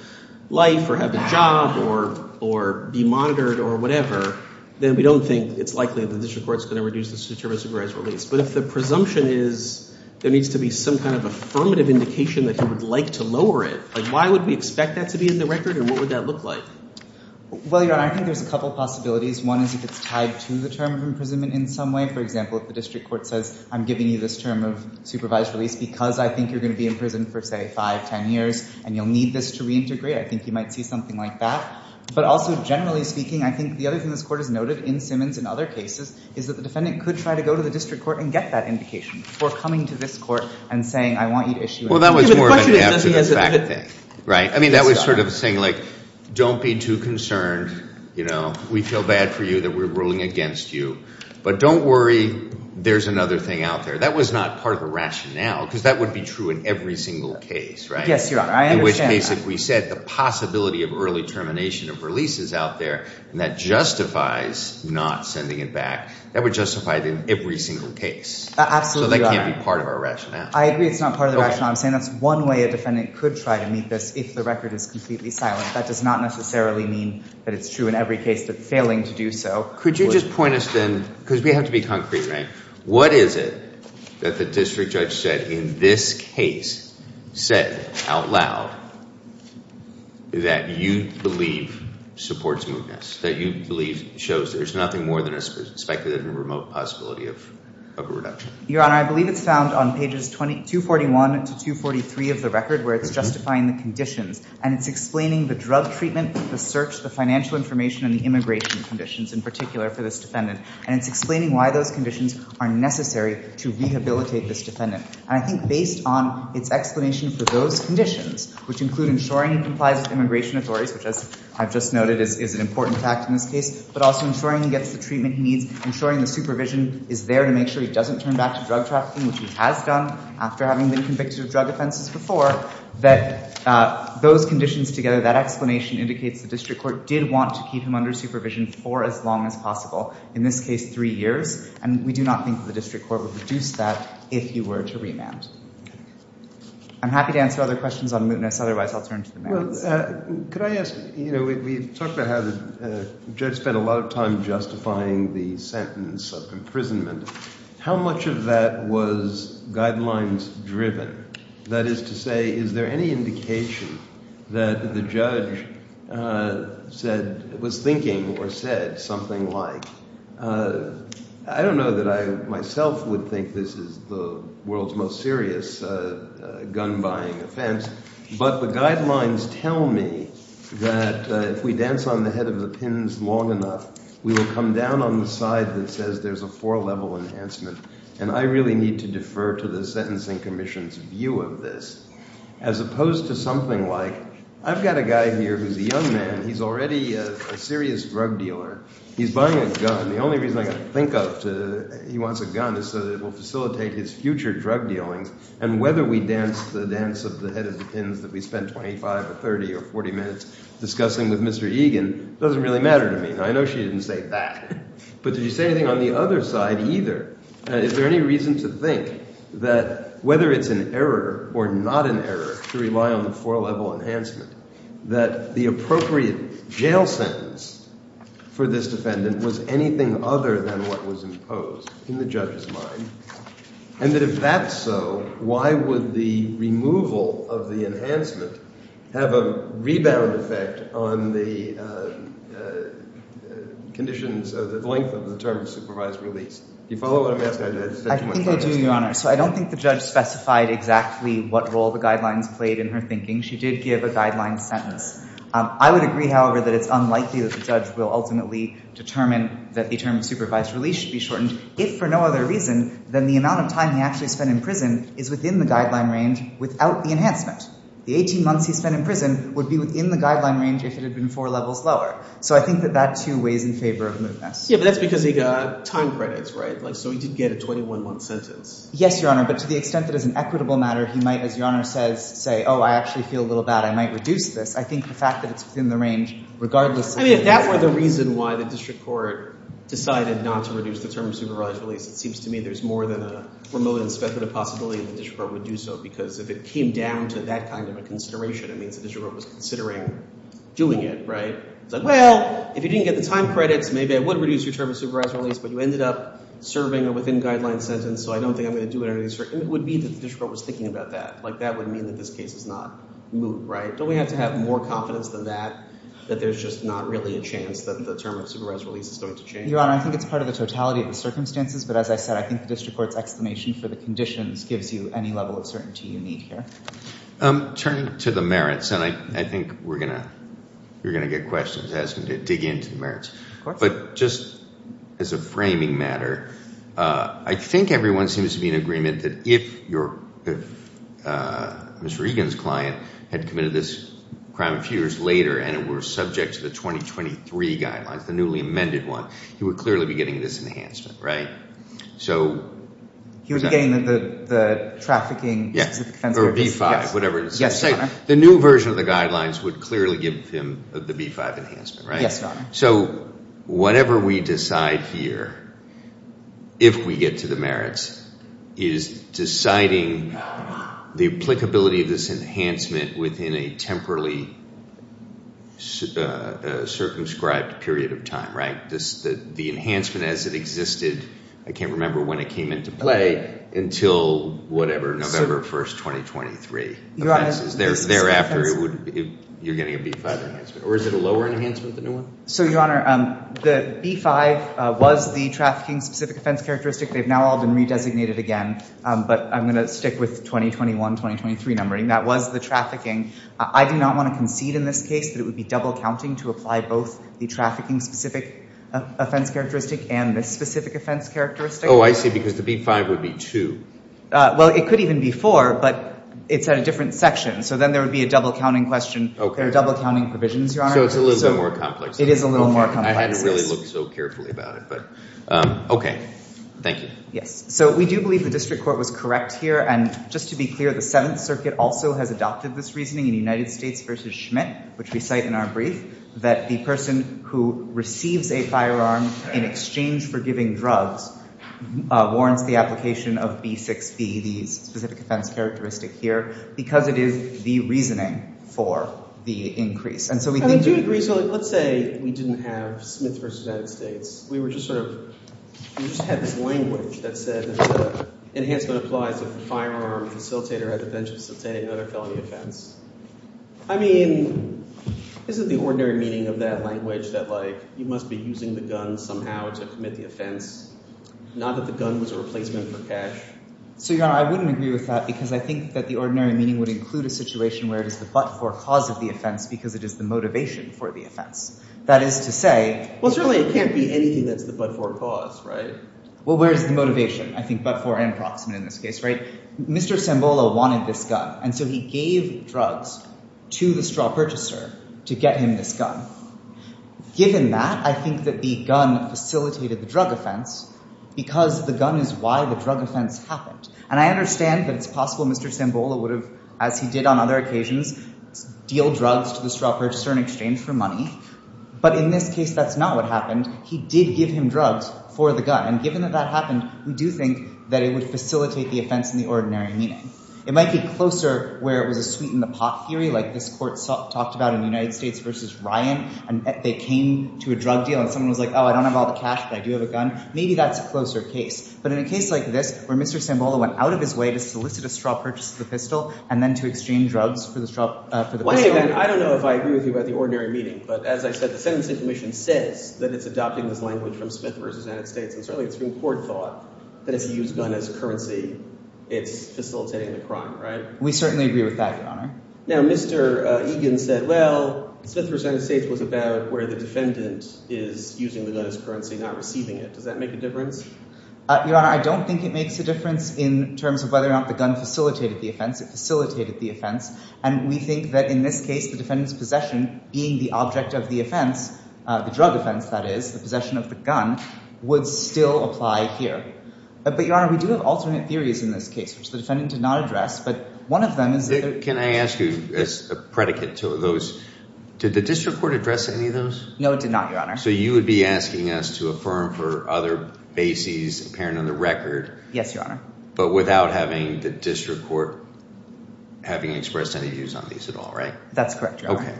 life or have a job or be monitored or whatever. Then we don't think it's likely the district court is going to reduce the term of supervised release. But if the presumption is there needs to be some kind of affirmative indication that he would like to lower it, why would we expect that to be in the record and what would that look like? Well, Your Honor, I think there's a couple of possibilities. One is if it's tied to the term of imprisonment in some way. For example, if the district court says I'm giving you this term of supervised release because I think you're going to be in prison for, say, five, ten years and you'll need this to reintegrate. I think you might see something like that. But also generally speaking, I think the other thing this court has noted in Simmons and other cases is that the defendant could try to go to the district court and get that indication before coming to this court and saying I want you to issue it. Well, that was more of an after-the-fact thing, right? I mean that was sort of saying like don't be too concerned. We feel bad for you that we're ruling against you. But don't worry. There's another thing out there. That was not part of the rationale because that would be true in every single case, right? Yes, Your Honor. I understand. In which case if we said the possibility of early termination of release is out there and that justifies not sending it back, that would justify it in every single case. Absolutely, Your Honor. So that can't be part of our rationale. I agree it's not part of the rationale. I'm saying that's one way a defendant could try to meet this if the record is completely silent. That does not necessarily mean that it's true in every case that failing to do so would – Could you just point us then – because we have to be concrete, right? What is it that the district judge said in this case, said out loud, that you believe supports mootness, that you believe shows there's nothing more than a speculative and remote possibility of a reduction? Your Honor, I believe it's found on pages 241 to 243 of the record where it's justifying the conditions. And it's explaining the drug treatment, the search, the financial information, and the immigration conditions in particular for this defendant. And it's explaining why those conditions are necessary to rehabilitate this defendant. And I think based on its explanation for those conditions, which include ensuring he complies with immigration authorities, which as I've just noted is an important fact in this case, but also ensuring he gets the treatment he needs, ensuring the supervision is there to make sure he doesn't turn back to drug trafficking, which he has done after having been convicted of drug offenses before, that those conditions together, that explanation indicates the district court did want to keep him under supervision for as long as possible, in this case three years. And we do not think the district court would reduce that if he were to remand. I'm happy to answer other questions on mootness. Otherwise, I'll turn to the merits. Could I ask – we talked about how the judge spent a lot of time justifying the sentence of imprisonment. How much of that was guidelines-driven? That is to say, is there any indication that the judge said – was thinking or said something like – I don't know that I myself would think this is the world's most serious gun-buying offense, but the guidelines tell me that if we dance on the head of the pins long enough, we will come down on the side that says there's a four-level enhancement. And I really need to defer to the Sentencing Commission's view of this, as opposed to something like I've got a guy here who's a young man. He's already a serious drug dealer. He's buying a gun. The only reason I got to think of he wants a gun is so that it will facilitate his future drug dealings. And whether we dance the dance of the head of the pins that we spent 25 or 30 or 40 minutes discussing with Mr. Egan doesn't really matter to me. Now, I know she didn't say that, but did you say anything on the other side either? Is there any reason to think that whether it's an error or not an error to rely on the four-level enhancement, that the appropriate jail sentence for this defendant was anything other than what was imposed in the judge's mind, and that if that's so, why would the removal of the enhancement have a rebound effect on the conditions – the length of the term supervised release? Do you follow what I'm asking? I think I do, Your Honor. So I don't think the judge specified exactly what role the guidelines played in her thinking. She did give a guideline sentence. I would agree, however, that it's unlikely that the judge will ultimately determine that the term supervised release should be shortened, if for no other reason than the amount of time he actually spent in prison is within the guideline range without the enhancement. The 18 months he spent in prison would be within the guideline range if it had been four levels lower. So I think that that, too, weighs in favor of mootness. Yeah, but that's because he got time credits, right? So he did get a 21-month sentence. Yes, Your Honor. But to the extent that it's an equitable matter, he might, as Your Honor says, say, oh, I actually feel a little bad. I might reduce this. I think the fact that it's within the range, regardless of – I mean, if that were the reason why the district court decided not to reduce the term supervised release, it seems to me there's more than a remote and speculative possibility that the district court would do so, because if it came down to that kind of a consideration, it means the district court was considering doing it, right? It's like, well, if you didn't get the time credits, maybe I would reduce your term of supervised release, but you ended up serving a within-guideline sentence, so I don't think I'm going to do it. It would be that the district court was thinking about that. That would mean that this case is not moot, right? Don't we have to have more confidence than that that there's just not really a chance that the term of supervised release is going to change? Your Honor, I think it's part of the totality of the circumstances, but as I said, I think the district court's explanation for the conditions gives you any level of certainty you need here. Turning to the merits, and I think you're going to get questions asking to dig into the merits. But just as a framing matter, I think everyone seems to be in agreement that if Mr. Egan's client had committed this crime a few years later and it were subject to the 2023 guidelines, the newly amended one, he would clearly be getting this enhancement, right? He would be getting the trafficking- Or V-5, whatever it is. Yes, Your Honor. The new version of the guidelines would clearly give him the V-5 enhancement, right? Yes, Your Honor. So whatever we decide here, if we get to the merits, is deciding the applicability of this enhancement within a temporarily circumscribed period of time, right? The enhancement as it existed, I can't remember when it came into play, until November 1, 2023. Thereafter, you're getting a V-5 enhancement. Or is it a lower enhancement, the new one? So, Your Honor, the V-5 was the trafficking-specific offense characteristic. They've now all been re-designated again, but I'm going to stick with 2021-2023 numbering. That was the trafficking. I do not want to concede in this case that it would be double-counting to apply both the trafficking-specific offense characteristic and the specific offense characteristic. Oh, I see, because the V-5 would be two. Well, it could even be four, but it's at a different section. So then there would be a double-counting question. There are double-counting provisions, Your Honor. So it's a little bit more complex. It is a little more complex. I hadn't really looked so carefully about it. Okay. Thank you. Yes. So we do believe the district court was correct here. And just to be clear, the Seventh Circuit also has adopted this reasoning in United States v. Schmidt, which we cite in our brief, that the person who receives a firearm in exchange for giving drugs warrants the application of B-6B, the specific offense characteristic here, because it is the reasoning for the increase. And so we do agree. Let's say we didn't have Smith v. United States. We were just sort of – we just had this language that said enhancement applies if the firearm facilitator had the potential to facilitate another felony offense. I mean, isn't the ordinary meaning of that language that, like, you must be using the gun somehow to commit the offense, not that the gun was a replacement for cash? So, Your Honor, I wouldn't agree with that because I think that the ordinary meaning would include a situation where it is the but-for cause of the offense because it is the motivation for the offense. That is to say – Well, certainly it can't be anything that's the but-for cause, right? Well, where is the motivation? I think but-for and approximate in this case, right? Mr. Sambola wanted this gun. And so he gave drugs to the straw purchaser to get him this gun. Given that, I think that the gun facilitated the drug offense because the gun is why the drug offense happened. And I understand that it's possible Mr. Sambola would have, as he did on other occasions, deal drugs to the straw purchaser in exchange for money. But in this case, that's not what happened. He did give him drugs for the gun. And given that that happened, we do think that it would facilitate the offense in the ordinary meaning. It might be closer where it was a sweet-in-the-pot theory like this court talked about in the United States versus Ryan. And they came to a drug deal and someone was like, oh, I don't have all the cash, but I do have a gun. Maybe that's a closer case. But in a case like this where Mr. Sambola went out of his way to solicit a straw purchase for the pistol and then to exchange drugs for the pistol— Wait a minute. I don't know if I agree with you about the ordinary meaning. But as I said, the Sentencing Commission says that it's adopting this language from Smith v. United States. And certainly it's been court thought that if you use gun as currency, it's facilitating the crime, right? We certainly agree with that, Your Honor. Now Mr. Egan said, well, Smith v. United States was about where the defendant is using the gun as currency, not receiving it. Does that make a difference? Your Honor, I don't think it makes a difference in terms of whether or not the gun facilitated the offense. It facilitated the offense. And we think that in this case, the defendant's possession being the object of the offense, the drug offense that is, the possession of the gun, would still apply here. But, Your Honor, we do have alternate theories in this case, which the defendant did not address. But one of them is— Can I ask you as a predicate to those? Did the district court address any of those? No, it did not, Your Honor. So you would be asking us to affirm for other bases apparent on the record— Yes, Your Honor. —but without having the district court having expressed any views on these at all, right? That's correct, Your Honor. Okay.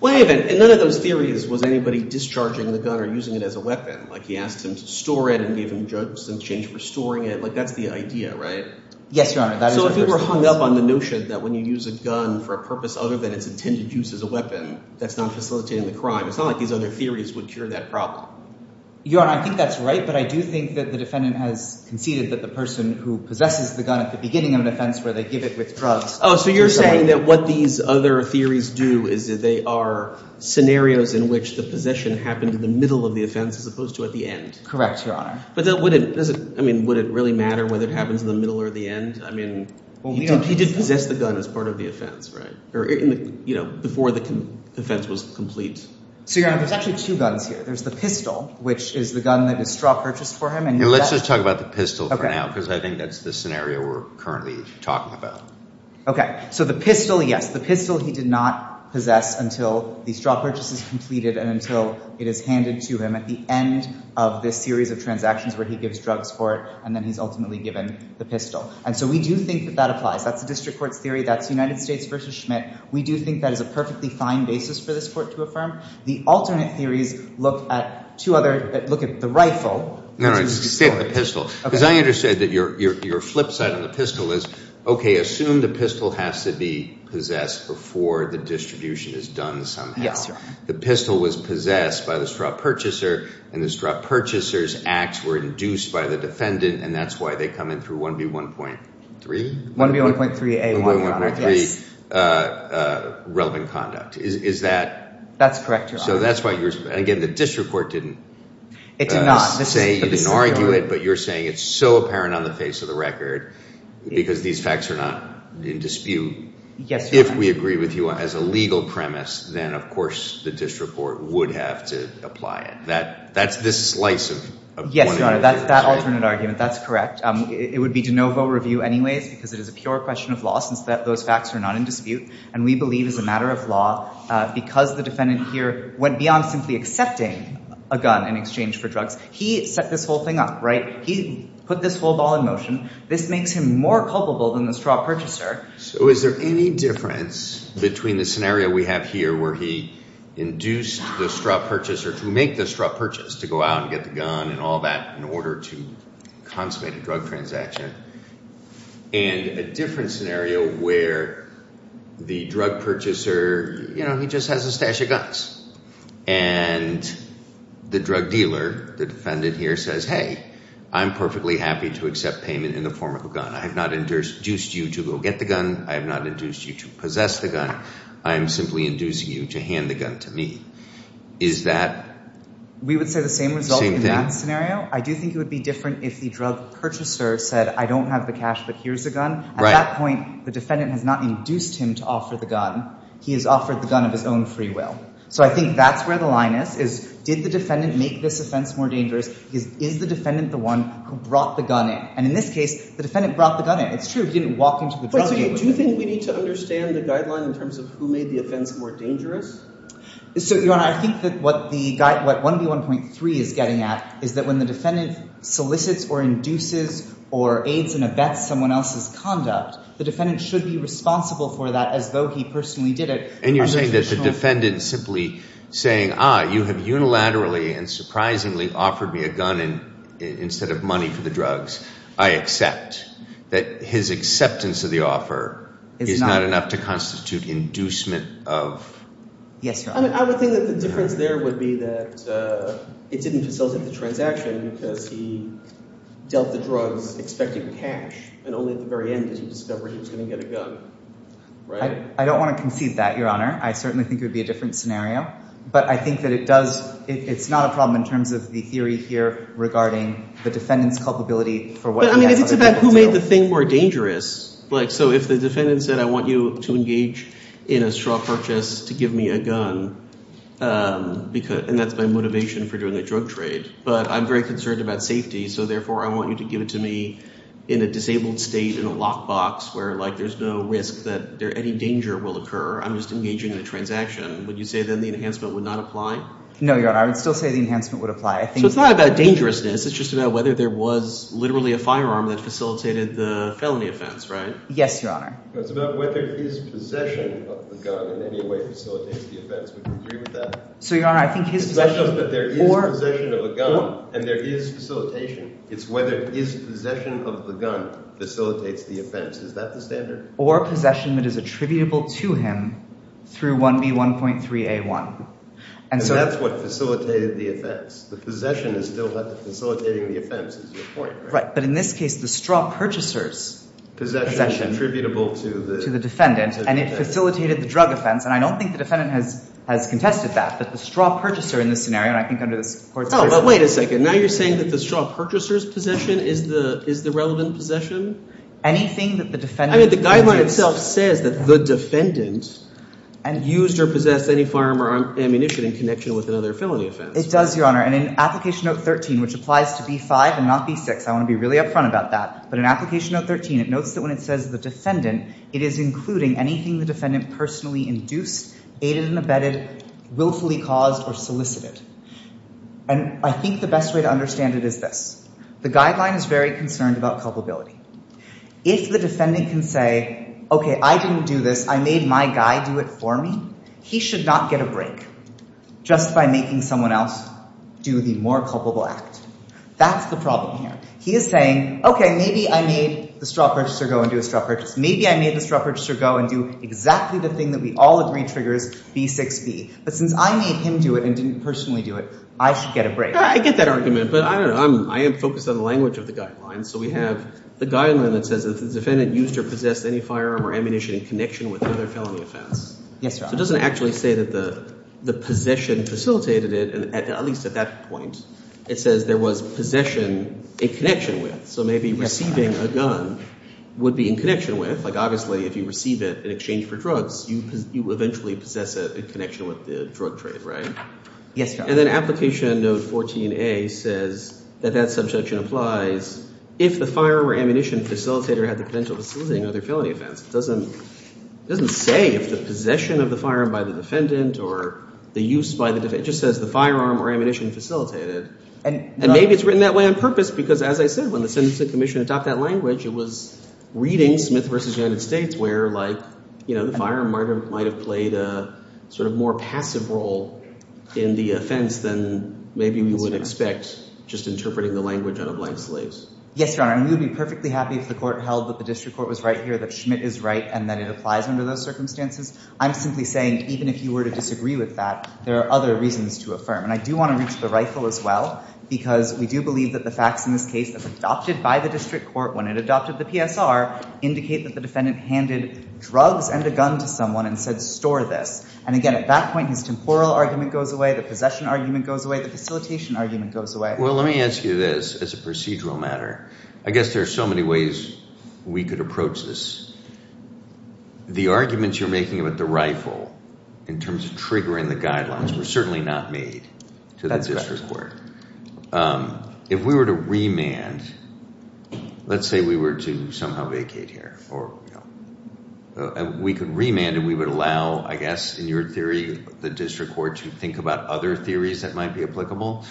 Well, hey, and none of those theories was anybody discharging the gun or using it as a weapon. Like he asked him to store it and gave him drugs in exchange for storing it. Like that's the idea, right? Yes, Your Honor. So if you were hung up on the notion that when you use a gun for a purpose other than its intended use as a weapon, that's not facilitating the crime. It's not like these other theories would cure that problem. Your Honor, I think that's right, but I do think that the defendant has conceded that the person who possesses the gun at the beginning of an offense where they give it with drugs— Oh, so you're saying that what these other theories do is that they are scenarios in which the possession happened in the middle of the offense as opposed to at the end. Correct, Your Honor. But then would it—I mean, would it really matter whether it happens in the middle or the end? I mean, he did possess the gun as part of the offense, right? Before the offense was complete. So, Your Honor, there's actually two guns here. There's the pistol, which is the gun that is straw-purchased for him. Let's just talk about the pistol for now because I think that's the scenario we're currently talking about. Okay. So the pistol, yes. The pistol he did not possess until the straw purchase is completed and until it is handed to him at the end of this series of transactions where he gives drugs for it. And then he's ultimately given the pistol. And so we do think that that applies. That's the district court's theory. That's the United States v. Schmidt. We do think that is a perfectly fine basis for this court to affirm. The alternate theories look at two other—look at the rifle. No, no. Stay on the pistol. Okay. Because I understand that your flip side on the pistol is, okay, assume the pistol has to be possessed before the distribution is done somehow. Yes, Your Honor. The pistol was possessed by the straw purchaser, and the straw purchaser's acts were induced by the defendant, and that's why they come in through 1B1.3? 1B1.3A1, Your Honor. 1B1.3A1, 1B1.3A1, 1B1.3A1, 1B1.3A1, 1B1.3A1, 1B1.3A1, 1B1.3A1, 1B1.3A1, 1B1.3A1, 1B1.3A1, 1B1.3A1, 1B1.3A1. Is that— That's correct, Your Honor. So that's why you're—and again, the district court didn't— It did not. —say you didn't argue it, but you're saying it's so apparent on the face of the record because these facts are not in dispute. Yes, Your Honor. If we agree with you as a legal premise, then of course the district court would have to apply it. That's this slice of 1A theory. Yes, Your Honor. That's that alternate argument. That's correct. It would be de novo review anyways because it is a pure question of law since those facts are not in dispute, and we believe as a matter of law because the defendant here went beyond simply accepting a gun in exchange for drugs. He set this whole thing up, right? He put this whole ball in motion. This makes him more culpable than the straw purchaser. So is there any difference between the scenario we have here where he induced the straw purchaser to make the straw purchase, to go out and get the gun and all that in order to consummate a drug transaction, and a different scenario where the drug purchaser, you know, he just has a stash of guns, and the drug dealer, the defendant here, says, hey, I'm perfectly happy to accept payment in the form of a gun. I have not induced you to go get the gun. I have not induced you to possess the gun. I am simply inducing you to hand the gun to me. Is that the same thing? We would say the same result in that scenario. I do think it would be different if the drug purchaser said, I don't have the cash, but here's a gun. At that point, the defendant has not induced him to offer the gun. He has offered the gun of his own free will. So I think that's where the line is, is did the defendant make this offense more dangerous? Is the defendant the one who brought the gun in? And in this case, the defendant brought the gun in. It's true he didn't walk into the drug dealer with it. Do you think we need to understand the guideline in terms of who made the offense more dangerous? So, Your Honor, I think that what 1B1.3 is getting at is that when the defendant solicits or induces or aids and abets someone else's conduct, the defendant should be responsible for that as though he personally did it. And you're saying that the defendant simply saying, ah, you have unilaterally and surprisingly offered me a gun instead of money for the drugs, I accept that his acceptance of the offer is not enough to constitute inducement of? Yes, Your Honor. I would think that the difference there would be that it didn't facilitate the transaction because he dealt the drugs expecting cash and only at the very end did he discover he was going to get a gun. Right? I don't want to concede that, Your Honor. I certainly think it would be a different scenario. But I think that it does – it's not a problem in terms of the theory here regarding the defendant's culpability for what he had other people do. But, I mean, it's about who made the thing more dangerous. Like, so if the defendant said I want you to engage in a straw purchase to give me a gun, and that's my motivation for doing a drug trade, but I'm very concerned about safety, so therefore I want you to give it to me in a disabled state in a lockbox where, like, there's no risk that any danger will occur. I'm just engaging in a transaction. Would you say then the enhancement would not apply? No, Your Honor. I would still say the enhancement would apply. So it's not about dangerousness. It's just about whether there was literally a firearm that facilitated the felony offense, right? Yes, Your Honor. It's about whether his possession of the gun in any way facilitates the offense. Would you agree with that? So, Your Honor, I think his possession – It's not just that there is possession of a gun and there is facilitation. It's whether his possession of the gun facilitates the offense. Is that the standard? Or possession that is attributable to him through 1B1.3A1. And that's what facilitated the offense. The possession is still facilitating the offense is your point, right? Right, but in this case, the straw purchaser's possession – Attributable to the defendant. And it facilitated the drug offense, and I don't think the defendant has contested that, but the straw purchaser in this scenario, and I think under this court's – Oh, but wait a second. Now you're saying that the straw purchaser's possession is the relevant possession? Anything that the defendant – I mean, the guideline itself says that the defendant used or possessed any firearm or ammunition in connection with another felony offense. It does, Your Honor. And in Application Note 13, which applies to B5 and not B6 – I want to be really upfront about that – but in Application Note 13, it notes that when it says the defendant, it is including anything the defendant personally induced, aided and abetted, willfully caused, or solicited. And I think the best way to understand it is this. The guideline is very concerned about culpability. If the defendant can say, okay, I didn't do this, I made my guy do it for me, he should not get a break just by making someone else do the more culpable act. That's the problem here. He is saying, okay, maybe I made the straw purchaser go and do a straw purchase. Maybe I made the straw purchaser go and do exactly the thing that we all agree triggers B6b. But since I made him do it and didn't personally do it, I should get a break. I get that argument, but I don't know. I am focused on the language of the guidelines. So we have the guideline that says if the defendant used or possessed any firearm or ammunition in connection with another felony offense. Yes, Your Honor. It doesn't actually say that the possession facilitated it, at least at that point. It says there was possession in connection with. So maybe receiving a gun would be in connection with. Like obviously if you receive it in exchange for drugs, you eventually possess it in connection with the drug trade, right? Yes, Your Honor. And then application note 14A says that that subjection applies if the firearm or ammunition facilitator had the potential of facilitating another felony offense. It doesn't say if the possession of the firearm by the defendant or the use by the defendant. It just says the firearm or ammunition facilitated. And maybe it's written that way on purpose because, as I said, when the Sentencing Commission adopted that language, it was reading Smith v. United States where the firearm might have played a sort of more passive role in the offense than maybe we would expect just interpreting the language on a blank slate. Yes, Your Honor. And we would be perfectly happy if the court held that the district court was right here, that Schmidt is right, and that it applies under those circumstances. I'm simply saying even if you were to disagree with that, there are other reasons to affirm. And I do want to reach the rifle as well because we do believe that the facts in this case that's adopted by the district court when it adopted the PSR indicate that the defendant handed drugs and a gun to someone and said, store this. And, again, at that point, his temporal argument goes away, the possession argument goes away, the facilitation argument goes away. Well, let me ask you this as a procedural matter. I guess there are so many ways we could approach this. The arguments you're making about the rifle in terms of triggering the guidelines were certainly not made to the district court. If we were to remand, let's say we were to somehow vacate here, we could remand and we would allow, I guess, in your theory, the district court to think about other theories that might be applicable.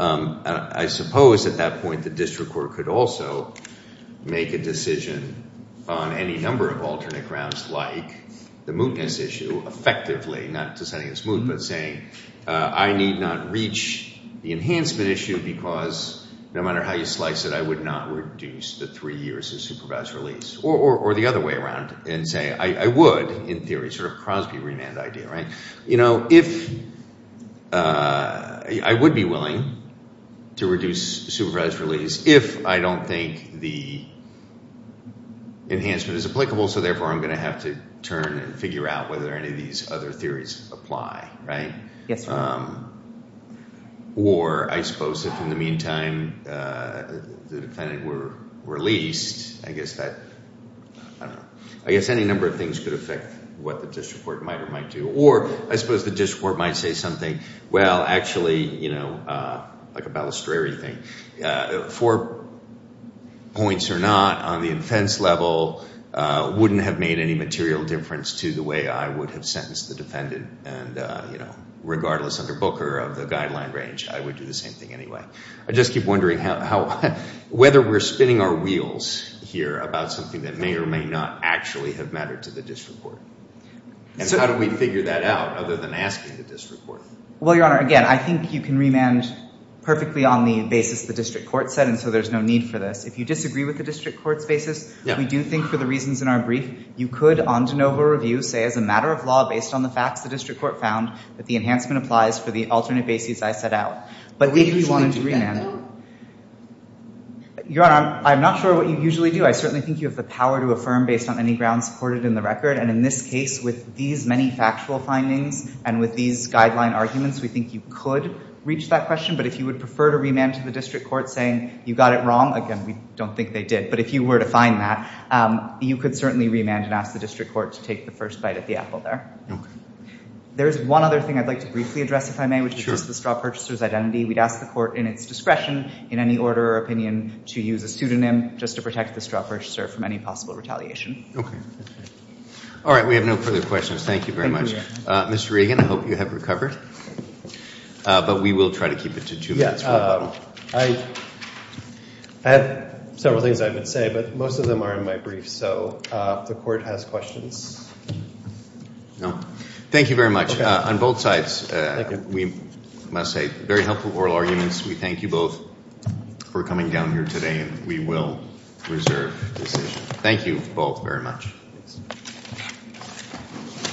I suppose at that point the district court could also make a decision on any number of alternate grounds like the mootness issue effectively, not to say it's moot, but saying I need not reach the enhancement issue because no matter how you slice it, I would not reduce the three years of supervised release. Or the other way around and say I would, in theory, sort of Crosby remand idea. If I would be willing to reduce supervised release if I don't think the enhancement is applicable, so therefore I'm going to have to turn and figure out whether any of these other theories apply, right? Yes, Your Honor. Or I suppose if in the meantime the defendant were released, I guess that, I don't know. I guess any number of things could affect what the district court might or might do. Or I suppose the district court might say something, well, actually, you know, like a balustrary thing. Four points or not on the offense level wouldn't have made any material difference to the way I would have sentenced the defendant. And, you know, regardless under Booker of the guideline range, I would do the same thing anyway. I just keep wondering whether we're spinning our wheels here about something that may or may not actually have mattered to the district court. And how do we figure that out other than asking the district court? Well, Your Honor, again, I think you can remand perfectly on the basis the district court said. And so there's no need for this. If you disagree with the district court's basis, we do think for the reasons in our brief, you could on de novo review say as a matter of law based on the facts the district court found that the enhancement applies for the alternate bases I set out. But if you wanted to remand. Your Honor, I'm not sure what you usually do. I certainly think you have the power to affirm based on any grounds supported in the record. And in this case, with these many factual findings and with these guideline arguments, we think you could reach that question. But if you would prefer to remand to the district court saying you got it wrong, again, we don't think they did. But if you were to find that, you could certainly remand and ask the district court to take the first bite at the apple there. There is one other thing I'd like to briefly address, if I may, which is the straw purchaser's identity. We'd ask the court in its discretion in any order or opinion to use a pseudonym just to protect the straw purchaser from any possible retaliation. All right. We have no further questions. Thank you very much. Mr. Regan, I hope you have recovered. But we will try to keep it to two minutes. I have several things I would say, but most of them are in my brief. So the court has questions. Thank you very much. On both sides, we must say very helpful oral arguments. We thank you both for coming down here today. And we will reserve the decision. Thank you both very much.